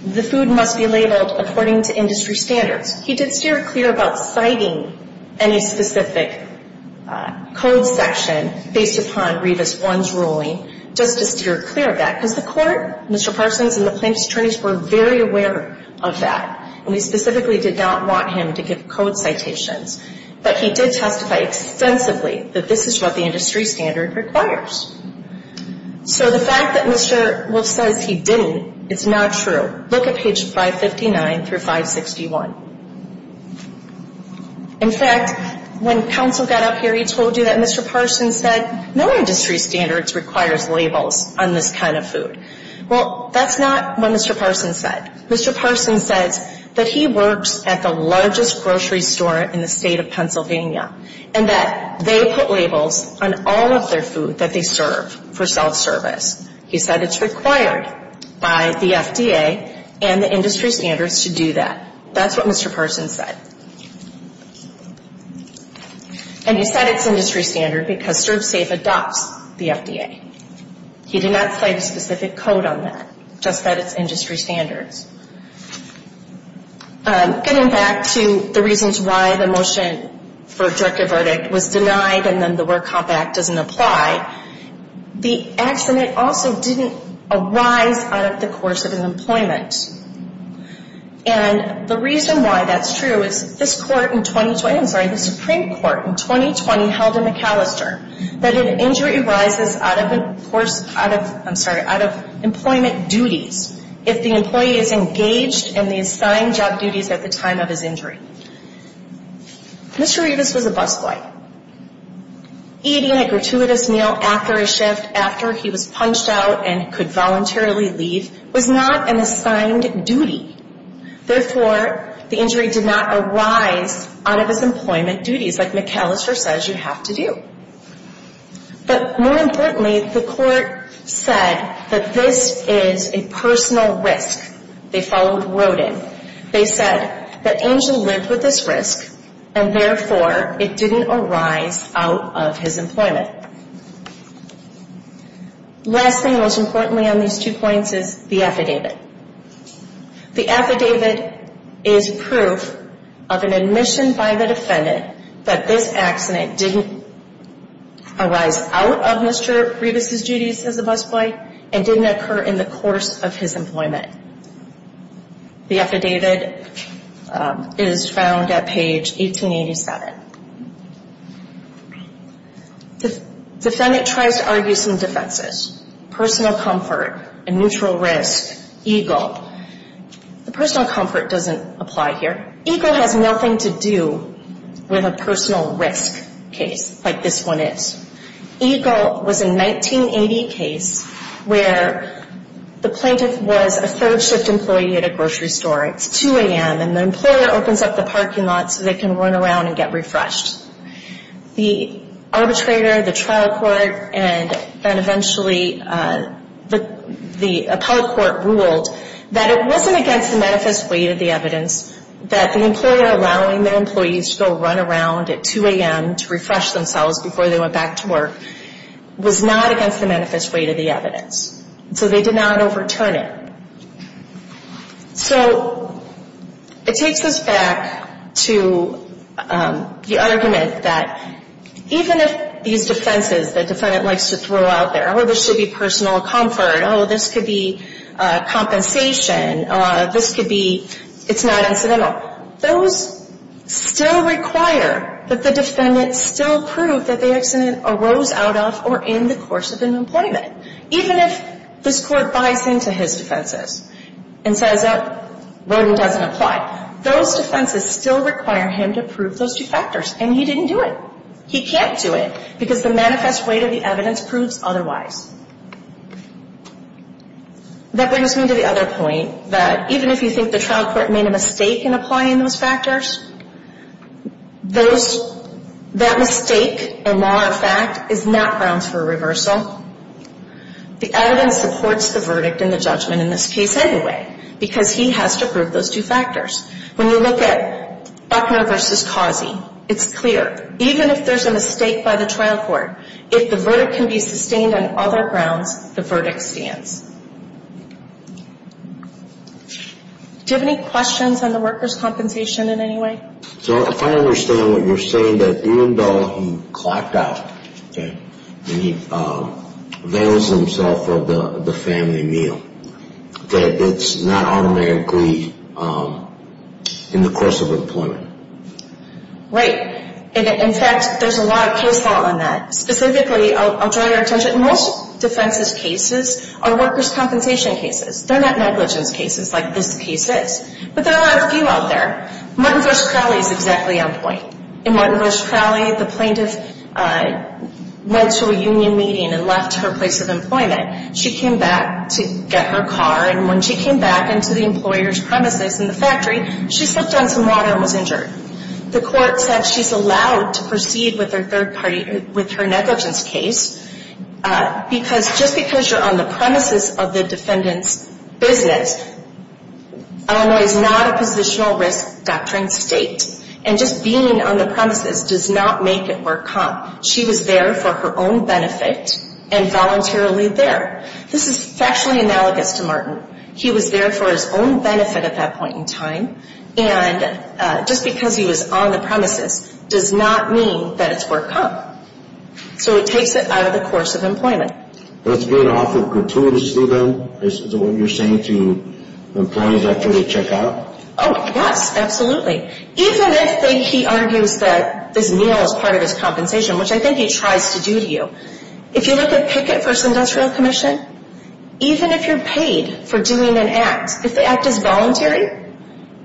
the food must be labeled according to industry standards. He did steer clear about citing any specific code section based upon Revis 1's ruling, just to steer clear of that, because the court, Mr. Parsons, and the plaintiff's attorneys were very aware of that. And we specifically did not want him to give code citations. But he did testify extensively that this is what the industry standard requires. So the fact that Mr. Wolf says he didn't, it's not true. Look at page 559 through 561. In fact, when counsel got up here, he told you that Mr. Parsons said, no industry standards requires labels on this kind of food. Well, that's not what Mr. Parsons said. Mr. Parsons says that he works at the largest grocery store in the state of Pennsylvania and that they put labels on all of their food that they serve for self-service. He said it's required by the FDA and the industry standards to do that. That's what Mr. Parsons said. And he said it's industry standard because Serve Safe adopts the FDA. He did not cite a specific code on that, just that it's industry standards. Getting back to the reasons why the motion for a directive verdict was denied and then the Work Comp Act doesn't apply, the accident also didn't arise out of the course of an employment. And the reason why that's true is this court in 2020, I'm sorry, the Supreme Court in 2020 held in McAllister that an injury arises out of employment duties if the employee is engaged in the assigned job duties at the time of his injury. Mr. Rivas was a busboy. Eating a gratuitous meal after a shift, after he was punched out and could voluntarily leave, was not an assigned duty. Therefore, the injury did not arise out of his employment duties like McAllister says you have to do. But more importantly, the court said that this is a personal risk. They followed Roden. They said that Angel lived with this risk and therefore it didn't arise out of his employment. Last thing, most importantly on these two points is the affidavit. The affidavit is proof of an admission by the defendant that this accident didn't arise out of Mr. Rivas' duties as a busboy and didn't occur in the course of his employment. The affidavit is found at page 1887. The defendant tries to argue some defenses. Personal comfort, a neutral risk, EGLE. The personal comfort doesn't apply here. EGLE has nothing to do with a personal risk case like this one is. EGLE was a 1980 case where the plaintiff was a third shift employee at a grocery store. It's 2 a.m. and the employer opens up the parking lot so they can run around and get refreshed. The arbitrator, the trial court, and eventually the appellate court ruled that it wasn't against the manifest weight of the evidence that the employer allowing their employees to go run around at 2 a.m. to refresh themselves before they went back to work was not against the manifest weight of the evidence. So they did not overturn it. So it takes us back to the argument that even if these defenses the defendant likes to throw out there, oh, there should be personal comfort, oh, this could be compensation, this could be it's not incidental, those still require that the defendant still prove that the accident arose out of or in the course of an employment. Even if this court buys into his defenses and says, oh, Roden doesn't apply, those defenses still require him to prove those two factors, and he didn't do it. He can't do it because the manifest weight of the evidence proves otherwise. That brings me to the other point that even if you think the trial court made a mistake in applying those factors, that mistake, a law of fact, is not grounds for reversal. The evidence supports the verdict and the judgment in this case anyway because he has to prove those two factors. When you look at Buckner v. Causey, it's clear. Even if there's a mistake by the trial court, if the verdict can be sustained on other grounds, the verdict stands. Do you have any questions on the workers' compensation in any way? So if I understand what you're saying, that even though he clocked out and he avails himself of the family meal, that it's not automatically in the course of employment? Right. In fact, there's a lot of case law on that. Specifically, I'll draw your attention, most defenses cases are workers' compensation cases. They're not negligence cases like this case is. But there are a few out there. Martin V. Crowley is exactly on point. In Martin V. Crowley, the plaintiff went to a union meeting and left her place of employment. She came back to get her car, and when she came back into the employer's premises in the factory, she slipped on some water and was injured. The court said she's allowed to proceed with her negligence case because just because you're on the premises of the defendant's business, Illinois is not a positional risk doctrine state. And just being on the premises does not make it work, huh? She was there for her own benefit and voluntarily there. This is factually analogous to Martin. He was there for his own benefit at that point in time. And just because he was on the premises does not mean that it's work, huh? So it takes it out of the course of employment. That's being offered gratuitously, then, is what you're saying to employees after they check out? Oh, yes, absolutely. Even if they think he argues that this meal is part of his compensation, which I think he tries to do to you, if you look at Pickett v. Industrial Commission, even if you're paid for doing an act, if the act is voluntary,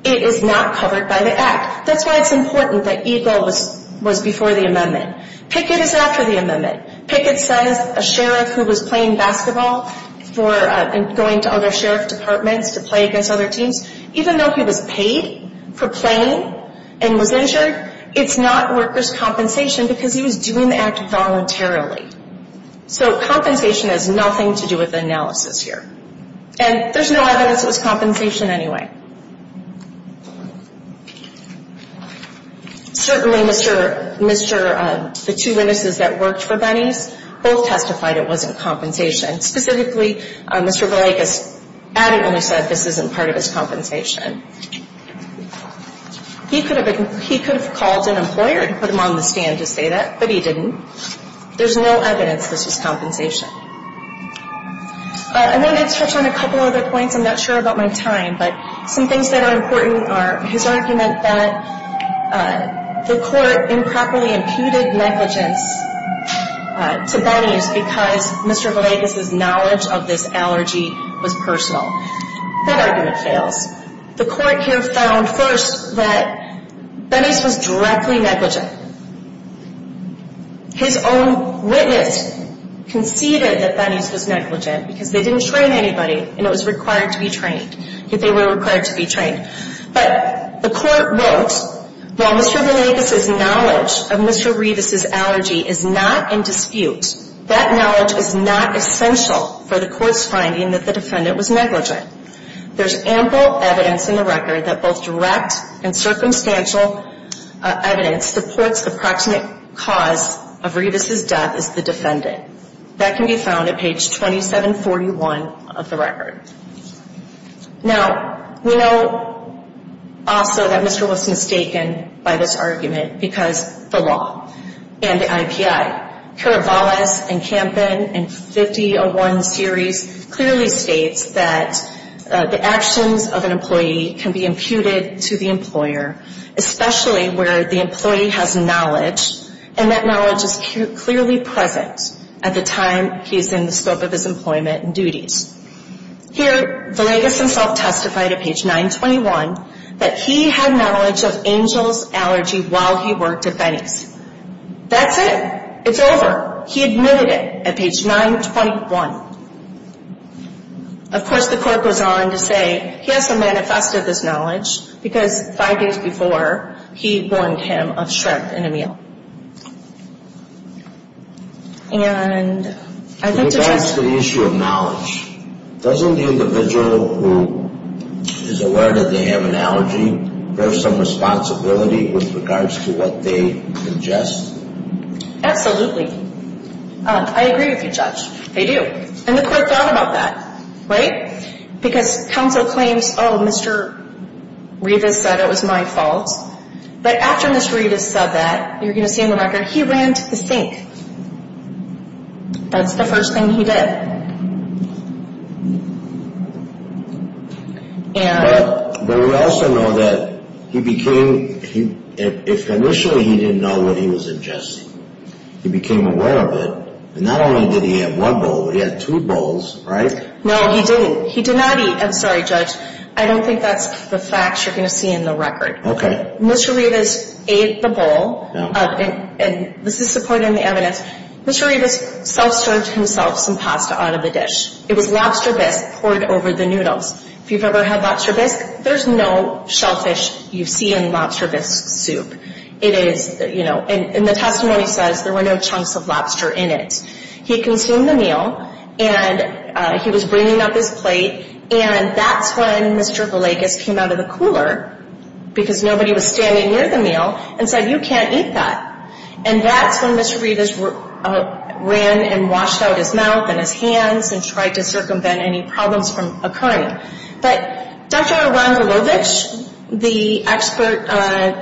it is not covered by the act. That's why it's important that EGLE was before the amendment. Pickett is after the amendment. Pickett says a sheriff who was playing basketball and going to other sheriff departments to play against other teams, even though he was paid for playing and was injured, it's not workers' compensation because he was doing the act voluntarily. So compensation has nothing to do with the analysis here. And there's no evidence it was compensation anyway. Certainly, the two witnesses that worked for Benny's both testified it wasn't compensation. Specifically, Mr. Villekas adamantly said this isn't part of his compensation. He could have called an employer and put him on the stand to say that, but he didn't. There's no evidence this was compensation. And then I'd touch on a couple other points. I'm not sure about my time, but some things that are important are his argument that the court improperly imputed negligence to Benny's because Mr. Villekas' knowledge of this allergy was personal. That argument fails. The court here found first that Benny's was directly negligent. His own witness conceded that Benny's was negligent because they didn't train anybody, and it was required to be trained, that they were required to be trained. But the court wrote, while Mr. Villekas' knowledge of Mr. Revis' allergy is not in dispute, that knowledge is not essential for the court's finding that the defendant was negligent. There's ample evidence in the record that both direct and circumstantial evidence supports the proximate cause of Revis' death as the defendant. That can be found at page 2741 of the record. Now, we know also that Mr. was mistaken by this argument because the law and the IPI. Kirovalas and Kampen in 5001 series clearly states that the actions of an employee can be imputed to the employer, especially where the employee has knowledge, and that knowledge is clearly present at the time he's in the scope of his employment and duties. Here, Villekas himself testified at page 921 that he had knowledge of Angel's allergy while he worked at Benny's. That's it. It's over. He admitted it at page 921. Of course, the court goes on to say he has to manifest this knowledge because five days before, he warned him of shrimp in a meal. In regards to the issue of knowledge, doesn't the individual who is aware that they have an allergy have some responsibility with regards to what they suggest? Absolutely. I agree with you, Judge. They do. And the court thought about that, right? Because counsel claims, oh, Mr. Rivas said it was my fault, but after Mr. Rivas said that, you're going to see in the record, he ran to the sink. That's the first thing he did. But we also know that he became – initially, he didn't know what he was ingesting. He became aware of it, and not only did he have one bowl, but he had two bowls, right? No, he didn't. He did not eat – I'm sorry, Judge. I don't think that's the facts you're going to see in the record. Okay. Mr. Rivas ate the bowl, and this is supporting the evidence. Mr. Rivas self-served himself some pasta out of the dish. It was lobster bisque poured over the noodles. If you've ever had lobster bisque, there's no shellfish you see in lobster bisque soup. And the testimony says there were no chunks of lobster in it. He consumed the meal, and he was bringing up his plate, and that's when Mr. Villegas came out of the cooler, because nobody was standing near the meal, and said, you can't eat that. And that's when Mr. Rivas ran and washed out his mouth and his hands and tried to circumvent any problems from occurring. But Dr. Rangelovich, the expert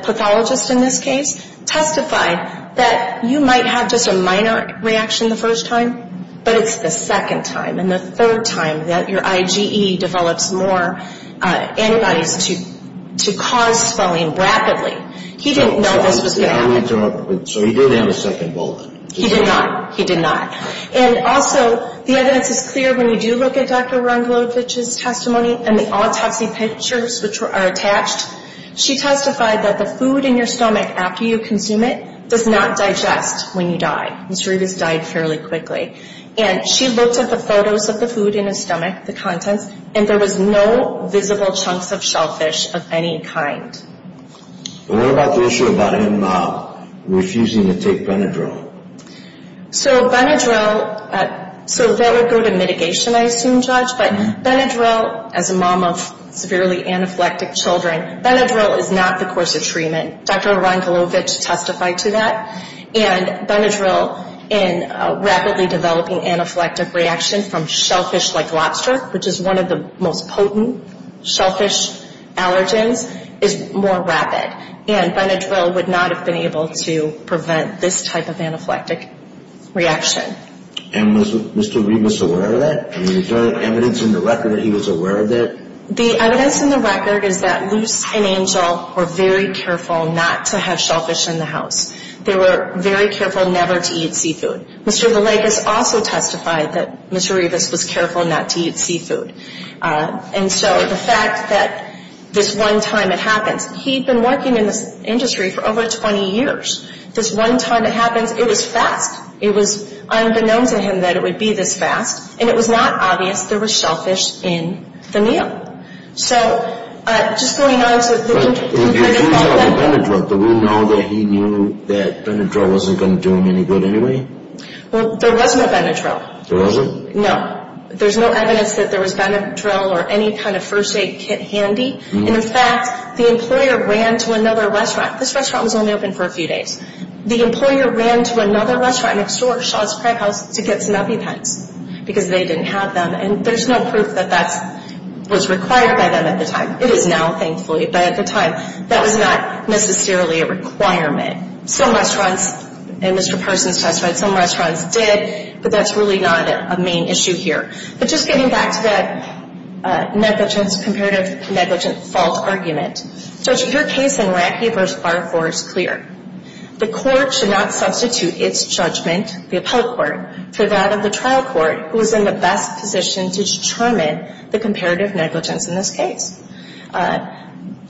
pathologist in this case, testified that you might have just a minor reaction the first time, but it's the second time and the third time that your IgE develops more antibodies to cause swelling rapidly. He didn't know this was going to happen. So he did have a second bowl then? He did not. He did not. And also, the evidence is clear when you do look at Dr. Rangelovich's testimony and the autopsy pictures which are attached. She testified that the food in your stomach after you consume it does not digest when you die. Mr. Rivas died fairly quickly. And she looked at the photos of the food in his stomach, the contents, and there was no visible chunks of shellfish of any kind. What about the issue about him refusing to take Benadryl? So Benadryl, so that would go to mitigation, I assume, Judge. But Benadryl, as a mom of severely anaphylactic children, Benadryl is not the course of treatment. Dr. Rangelovich testified to that. And Benadryl in rapidly developing anaphylactic reaction from shellfish like lobster, which is one of the most potent shellfish allergens, is more rapid. And Benadryl would not have been able to prevent this type of anaphylactic reaction. And was Mr. Rivas aware of that? I mean, is there evidence in the record that he was aware of that? The evidence in the record is that Luce and Angel were very careful not to have shellfish in the house. They were very careful never to eat seafood. Mr. Villegas also testified that Mr. Rivas was careful not to eat seafood. And so the fact that this one time it happens. He'd been working in this industry for over 20 years. This one time it happens, it was fast. It was unbeknownst to him that it would be this fast. And it was not obvious there were shellfish in the meal. So just going on to the in- But if he was on Benadryl, did we know that he knew that Benadryl wasn't going to do him any good anyway? Well, there was no Benadryl. There wasn't? No. There's no evidence that there was Benadryl or any kind of first aid kit handy. And in fact, the employer ran to another restaurant. This restaurant was only open for a few days. The employer ran to another restaurant next door, Shaw's Crab House, to get some EpiPens. Because they didn't have them. And there's no proof that that was required by them at the time. It is now, thankfully. But at the time, that was not necessarily a requirement. Some restaurants, and Mr. Parsons testified, some restaurants did. But that's really not a main issue here. But just getting back to that negligence, comparative negligence fault argument. Judge, your case in Racky v. Barfor is clear. The court should not substitute its judgment, the appellate court, for that of the trial court, who is in the best position to determine the comparative negligence in this case.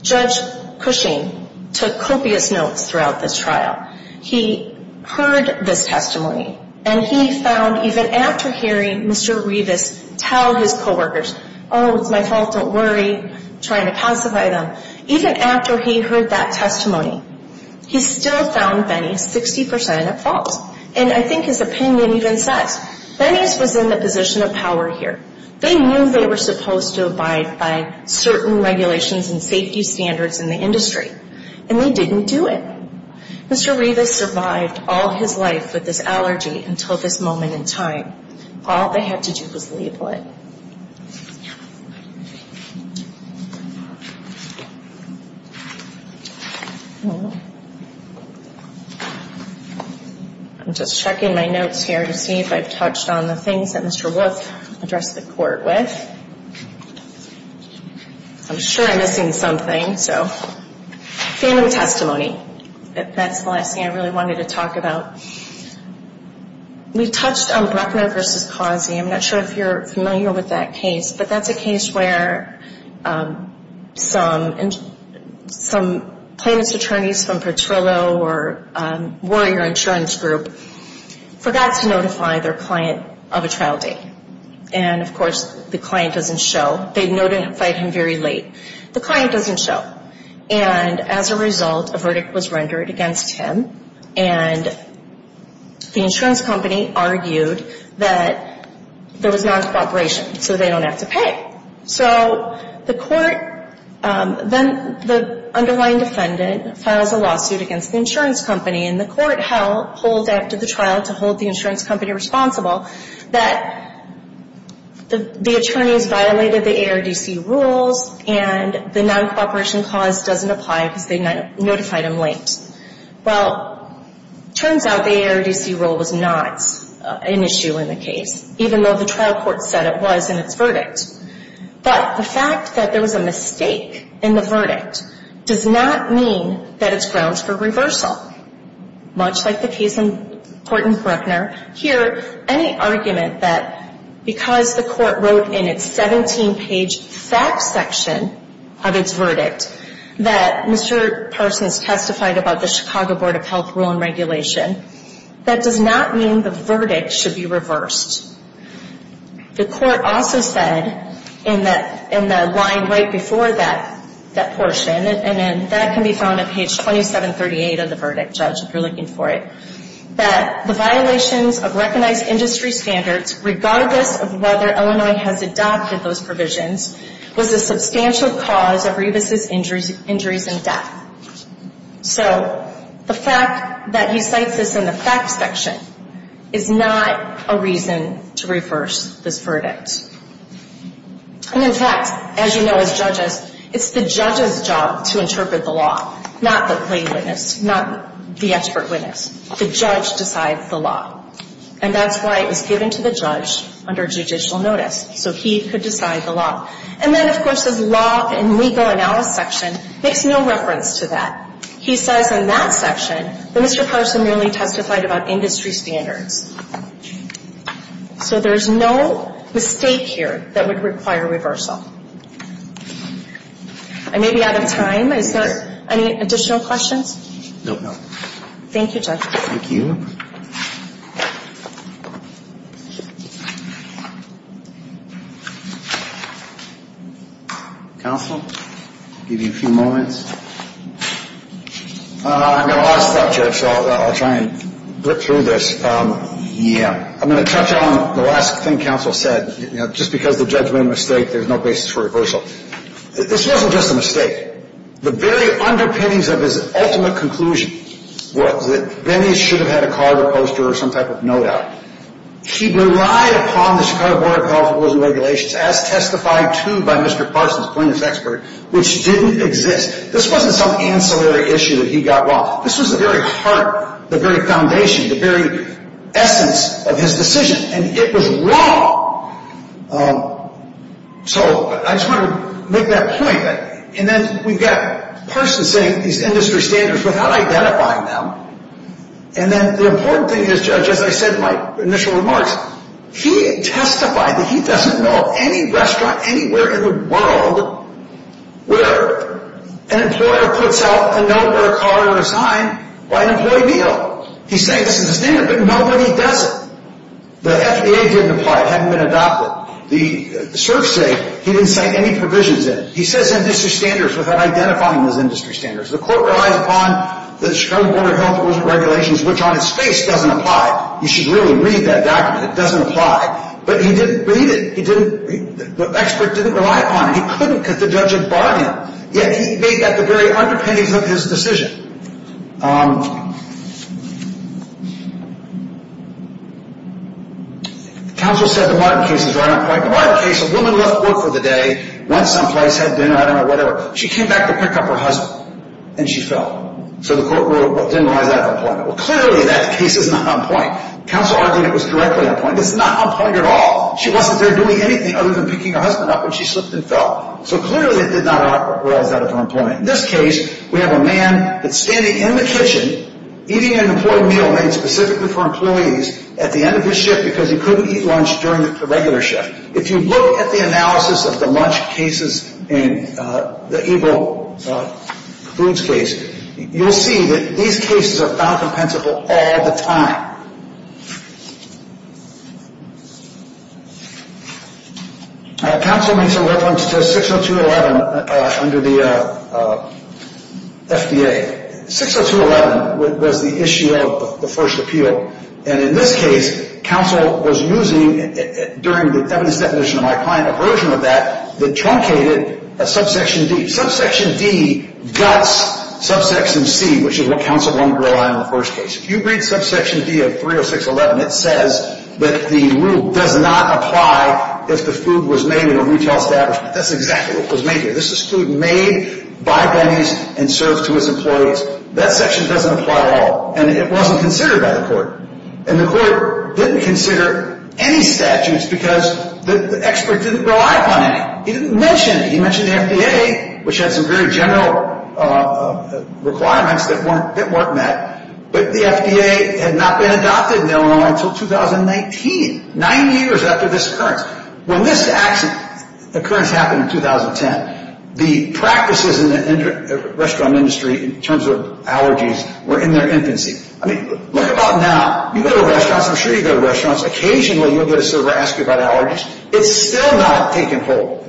Judge Cushing took copious notes throughout this trial. He heard this testimony. And he found, even after hearing Mr. Revis tell his co-workers, oh, it's my fault, don't worry, trying to pacify them. Even after he heard that testimony, he still found Benes 60% at fault. And I think his opinion even says, Benes was in the position of power here. They knew they were supposed to abide by certain regulations and safety standards in the industry. And they didn't do it. Mr. Revis survived all his life with this allergy until this moment in time. All they had to do was label it. I'm just checking my notes here to see if I've touched on the things that Mr. Wolf addressed the court with. I'm sure I'm missing something. Fandom testimony. That's the last thing I really wanted to talk about. We touched on Brechner v. Causey. I'm not sure if you're familiar with that case. But that's a case where some plaintiff's attorneys from Petrillo or Warrior Insurance Group forgot to notify their client of a trial date. And, of course, the client doesn't show. They notified him very late. The client doesn't show. And as a result, a verdict was rendered against him. And the insurance company argued that there was non-cooperation so they don't have to pay. So the court then the underlying defendant files a lawsuit against the insurance company. And the court held, hold after the trial to hold the insurance company responsible, that the attorneys violated the ARDC rules and the non-cooperation clause doesn't apply because they notified him late. Well, turns out the ARDC rule was not an issue in the case, even though the trial court said it was in its verdict. But the fact that there was a mistake in the verdict does not mean that it's grounds for reversal. Much like the case in Horton-Bruckner, here any argument that because the court wrote in its 17-page fact section of its verdict that Mr. Parsons testified about the Chicago Board of Health Rule and Regulation, that does not mean the verdict should be reversed. The court also said in the line right before that portion, and that can be found on page 2738 of the verdict, Judge, if you're looking for it, that the violations of recognized industry standards, regardless of whether Illinois has adopted those provisions, was a substantial cause of Rebus's injuries and death. So the fact that he cites this in the fact section is not a reason to reverse this verdict. And, in fact, as you know as judges, it's the judge's job to interpret the law, not the plain witness, not the expert witness. The judge decides the law. And that's why it was given to the judge under judicial notice, so he could decide the law. And then, of course, his law and legal analysis section makes no reference to that. He says in that section that Mr. Parsons merely testified about industry standards. So there's no mistake here that would require reversal. I may be out of time. Is there any additional questions? No, no. Thank you, Judge. Thank you. Counsel, I'll give you a few moments. I've got a lot of stuff, Judge, so I'll try and blip through this. Yeah, I'm going to touch on the last thing Counsel said. Just because the judge made a mistake, there's no basis for reversal. This wasn't just a mistake. The very underpinnings of his ultimate conclusion was that then he should have had a card or poster or some type of note out. He relied upon the Chicago Board of Health and Wellness Regulations, as testified to by Mr. Parsons, plaintiff's expert, which didn't exist. This wasn't some ancillary issue that he got wrong. This was the very heart, the very foundation, the very essence of his decision, and it was wrong. So I just wanted to make that point. And then we've got Parsons setting these industry standards without identifying them. And then the important thing is, Judge, as I said in my initial remarks, he testified that he doesn't know of any restaurant anywhere in the world where an employer puts out a note or a card or a sign by an employee B.O. He's saying this is a standard, but nobody does it. The FDA didn't apply. It hadn't been adopted. The CERF said he didn't cite any provisions in it. He says industry standards without identifying those industry standards. The court relies upon the Chicago Board of Health and Wellness Regulations, which on its face doesn't apply. You should really read that document. It doesn't apply. But he didn't read it. The expert didn't rely upon it. He couldn't because the judge had bought him. Yet he made that the very underpinnings of his decision. The counsel said the Martin case is right on point. The Martin case, a woman left work for the day, went someplace, had dinner, I don't know, whatever. She came back to pick up her husband, and she fell. So the court didn't realize that at the time. Well, clearly that case is not on point. The counsel argued it was directly on point. It's not on point at all. She wasn't there doing anything other than picking her husband up, and she slipped and fell. So clearly it did not arise out of on point. In this case, we have a man that's standing in the kitchen, eating an important meal made specifically for employees at the end of his shift because he couldn't eat lunch during the regular shift. If you look at the analysis of the lunch cases in the Evo Foods case, you'll see that these cases are found compensable all the time. Counsel makes a reference to 602.11 under the FDA. 602.11 was the issue of the first appeal. And in this case, counsel was using, during the evidence definition of my client, a version of that that truncated a subsection D. Subsection D guts subsection C, which is what counsel wanted to rely on in the first case. If you read subsection D of 306.11, it says that the rule does not apply if the food was made in a retail establishment. That's exactly what was made here. This is food made by Benny's and served to his employees. That section doesn't apply at all. And it wasn't considered by the court. And the court didn't consider any statutes because the expert didn't rely upon any. He didn't mention it. He mentioned the FDA, which had some very general requirements that weren't met. But the FDA had not been adopted in Illinois until 2019, nine years after this occurrence. When this occurrence happened in 2010, the practices in the restaurant industry in terms of allergies were in their infancy. I mean, look about now. You go to restaurants. I'm sure you go to restaurants. Occasionally, you'll get a server ask you about allergies. It's still not taken hold.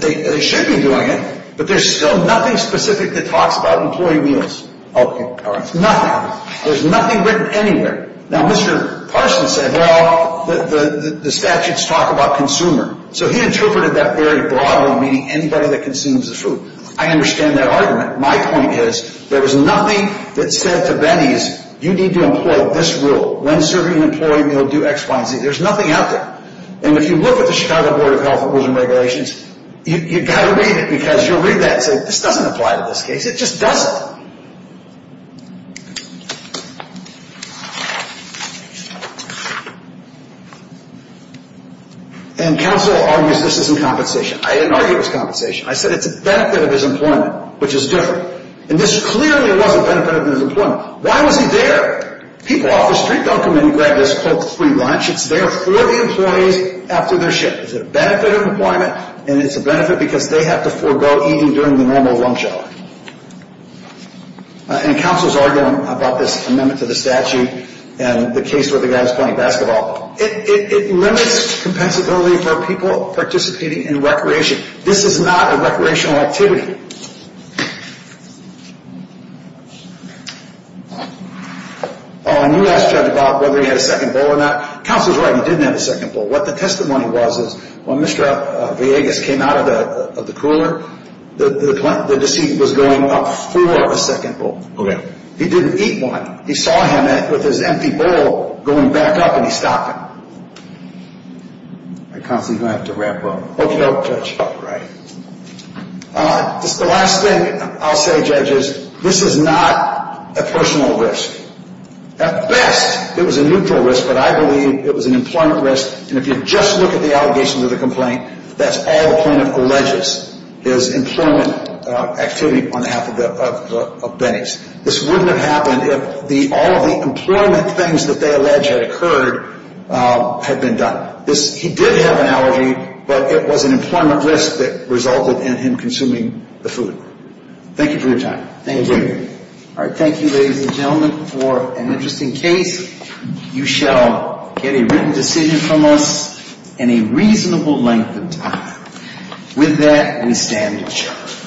They should be doing it, but there's still nothing specific that talks about employee meals. Nothing. There's nothing written anywhere. Now, Mr. Parson said, well, the statutes talk about consumer. So he interpreted that very broadly, meaning anybody that consumes the food. I understand that argument. My point is there was nothing that said to Benny's, you need to employ this rule. When serving an employee meal, do X, Y, and Z. There's nothing out there. And if you look at the Chicago Board of Health Regulations, you've got to read it because you'll read that and say, this doesn't apply to this case. It just doesn't. And counsel argues this isn't compensation. I didn't argue it was compensation. I said it's a benefit of his employment, which is different. And this clearly was a benefit of his employment. Why was he there? People off the street don't come in and grab this free lunch. It's there for the employees after their shift. Is it a benefit of employment? And it's a benefit because they have to forego eating during the normal lunch hour. And counsel's arguing about this amendment to the statute and the case where the guy's playing basketball. It limits compensability for people participating in recreation. This is not a recreational activity. Oh, and you asked Judge Bob whether he had a second bowl or not. Counsel's right. He didn't have a second bowl. What the testimony was is when Mr. Villegas came out of the cooler, the deceased was going up for a second bowl. Okay. He didn't eat one. He saw him with his empty bowl going back up, and he stopped him. Counsel, you're going to have to wrap up. Okay, Judge. All right. The last thing I'll say, Judge, is this is not a personal risk. At best, it was a neutral risk, but I believe it was an employment risk. And if you just look at the allegations of the complaint, that's all the plaintiff alleges is employment activity on behalf of Benny's. This wouldn't have happened if all of the employment things that they allege had occurred had been done. He did have an allergy, but it was an employment risk that resulted in him consuming the food. Thank you for your time. Thank you. All right. Thank you, ladies and gentlemen, for an interesting case. You shall get a written decision from us in a reasonable length of time. With that, we stand adjourned.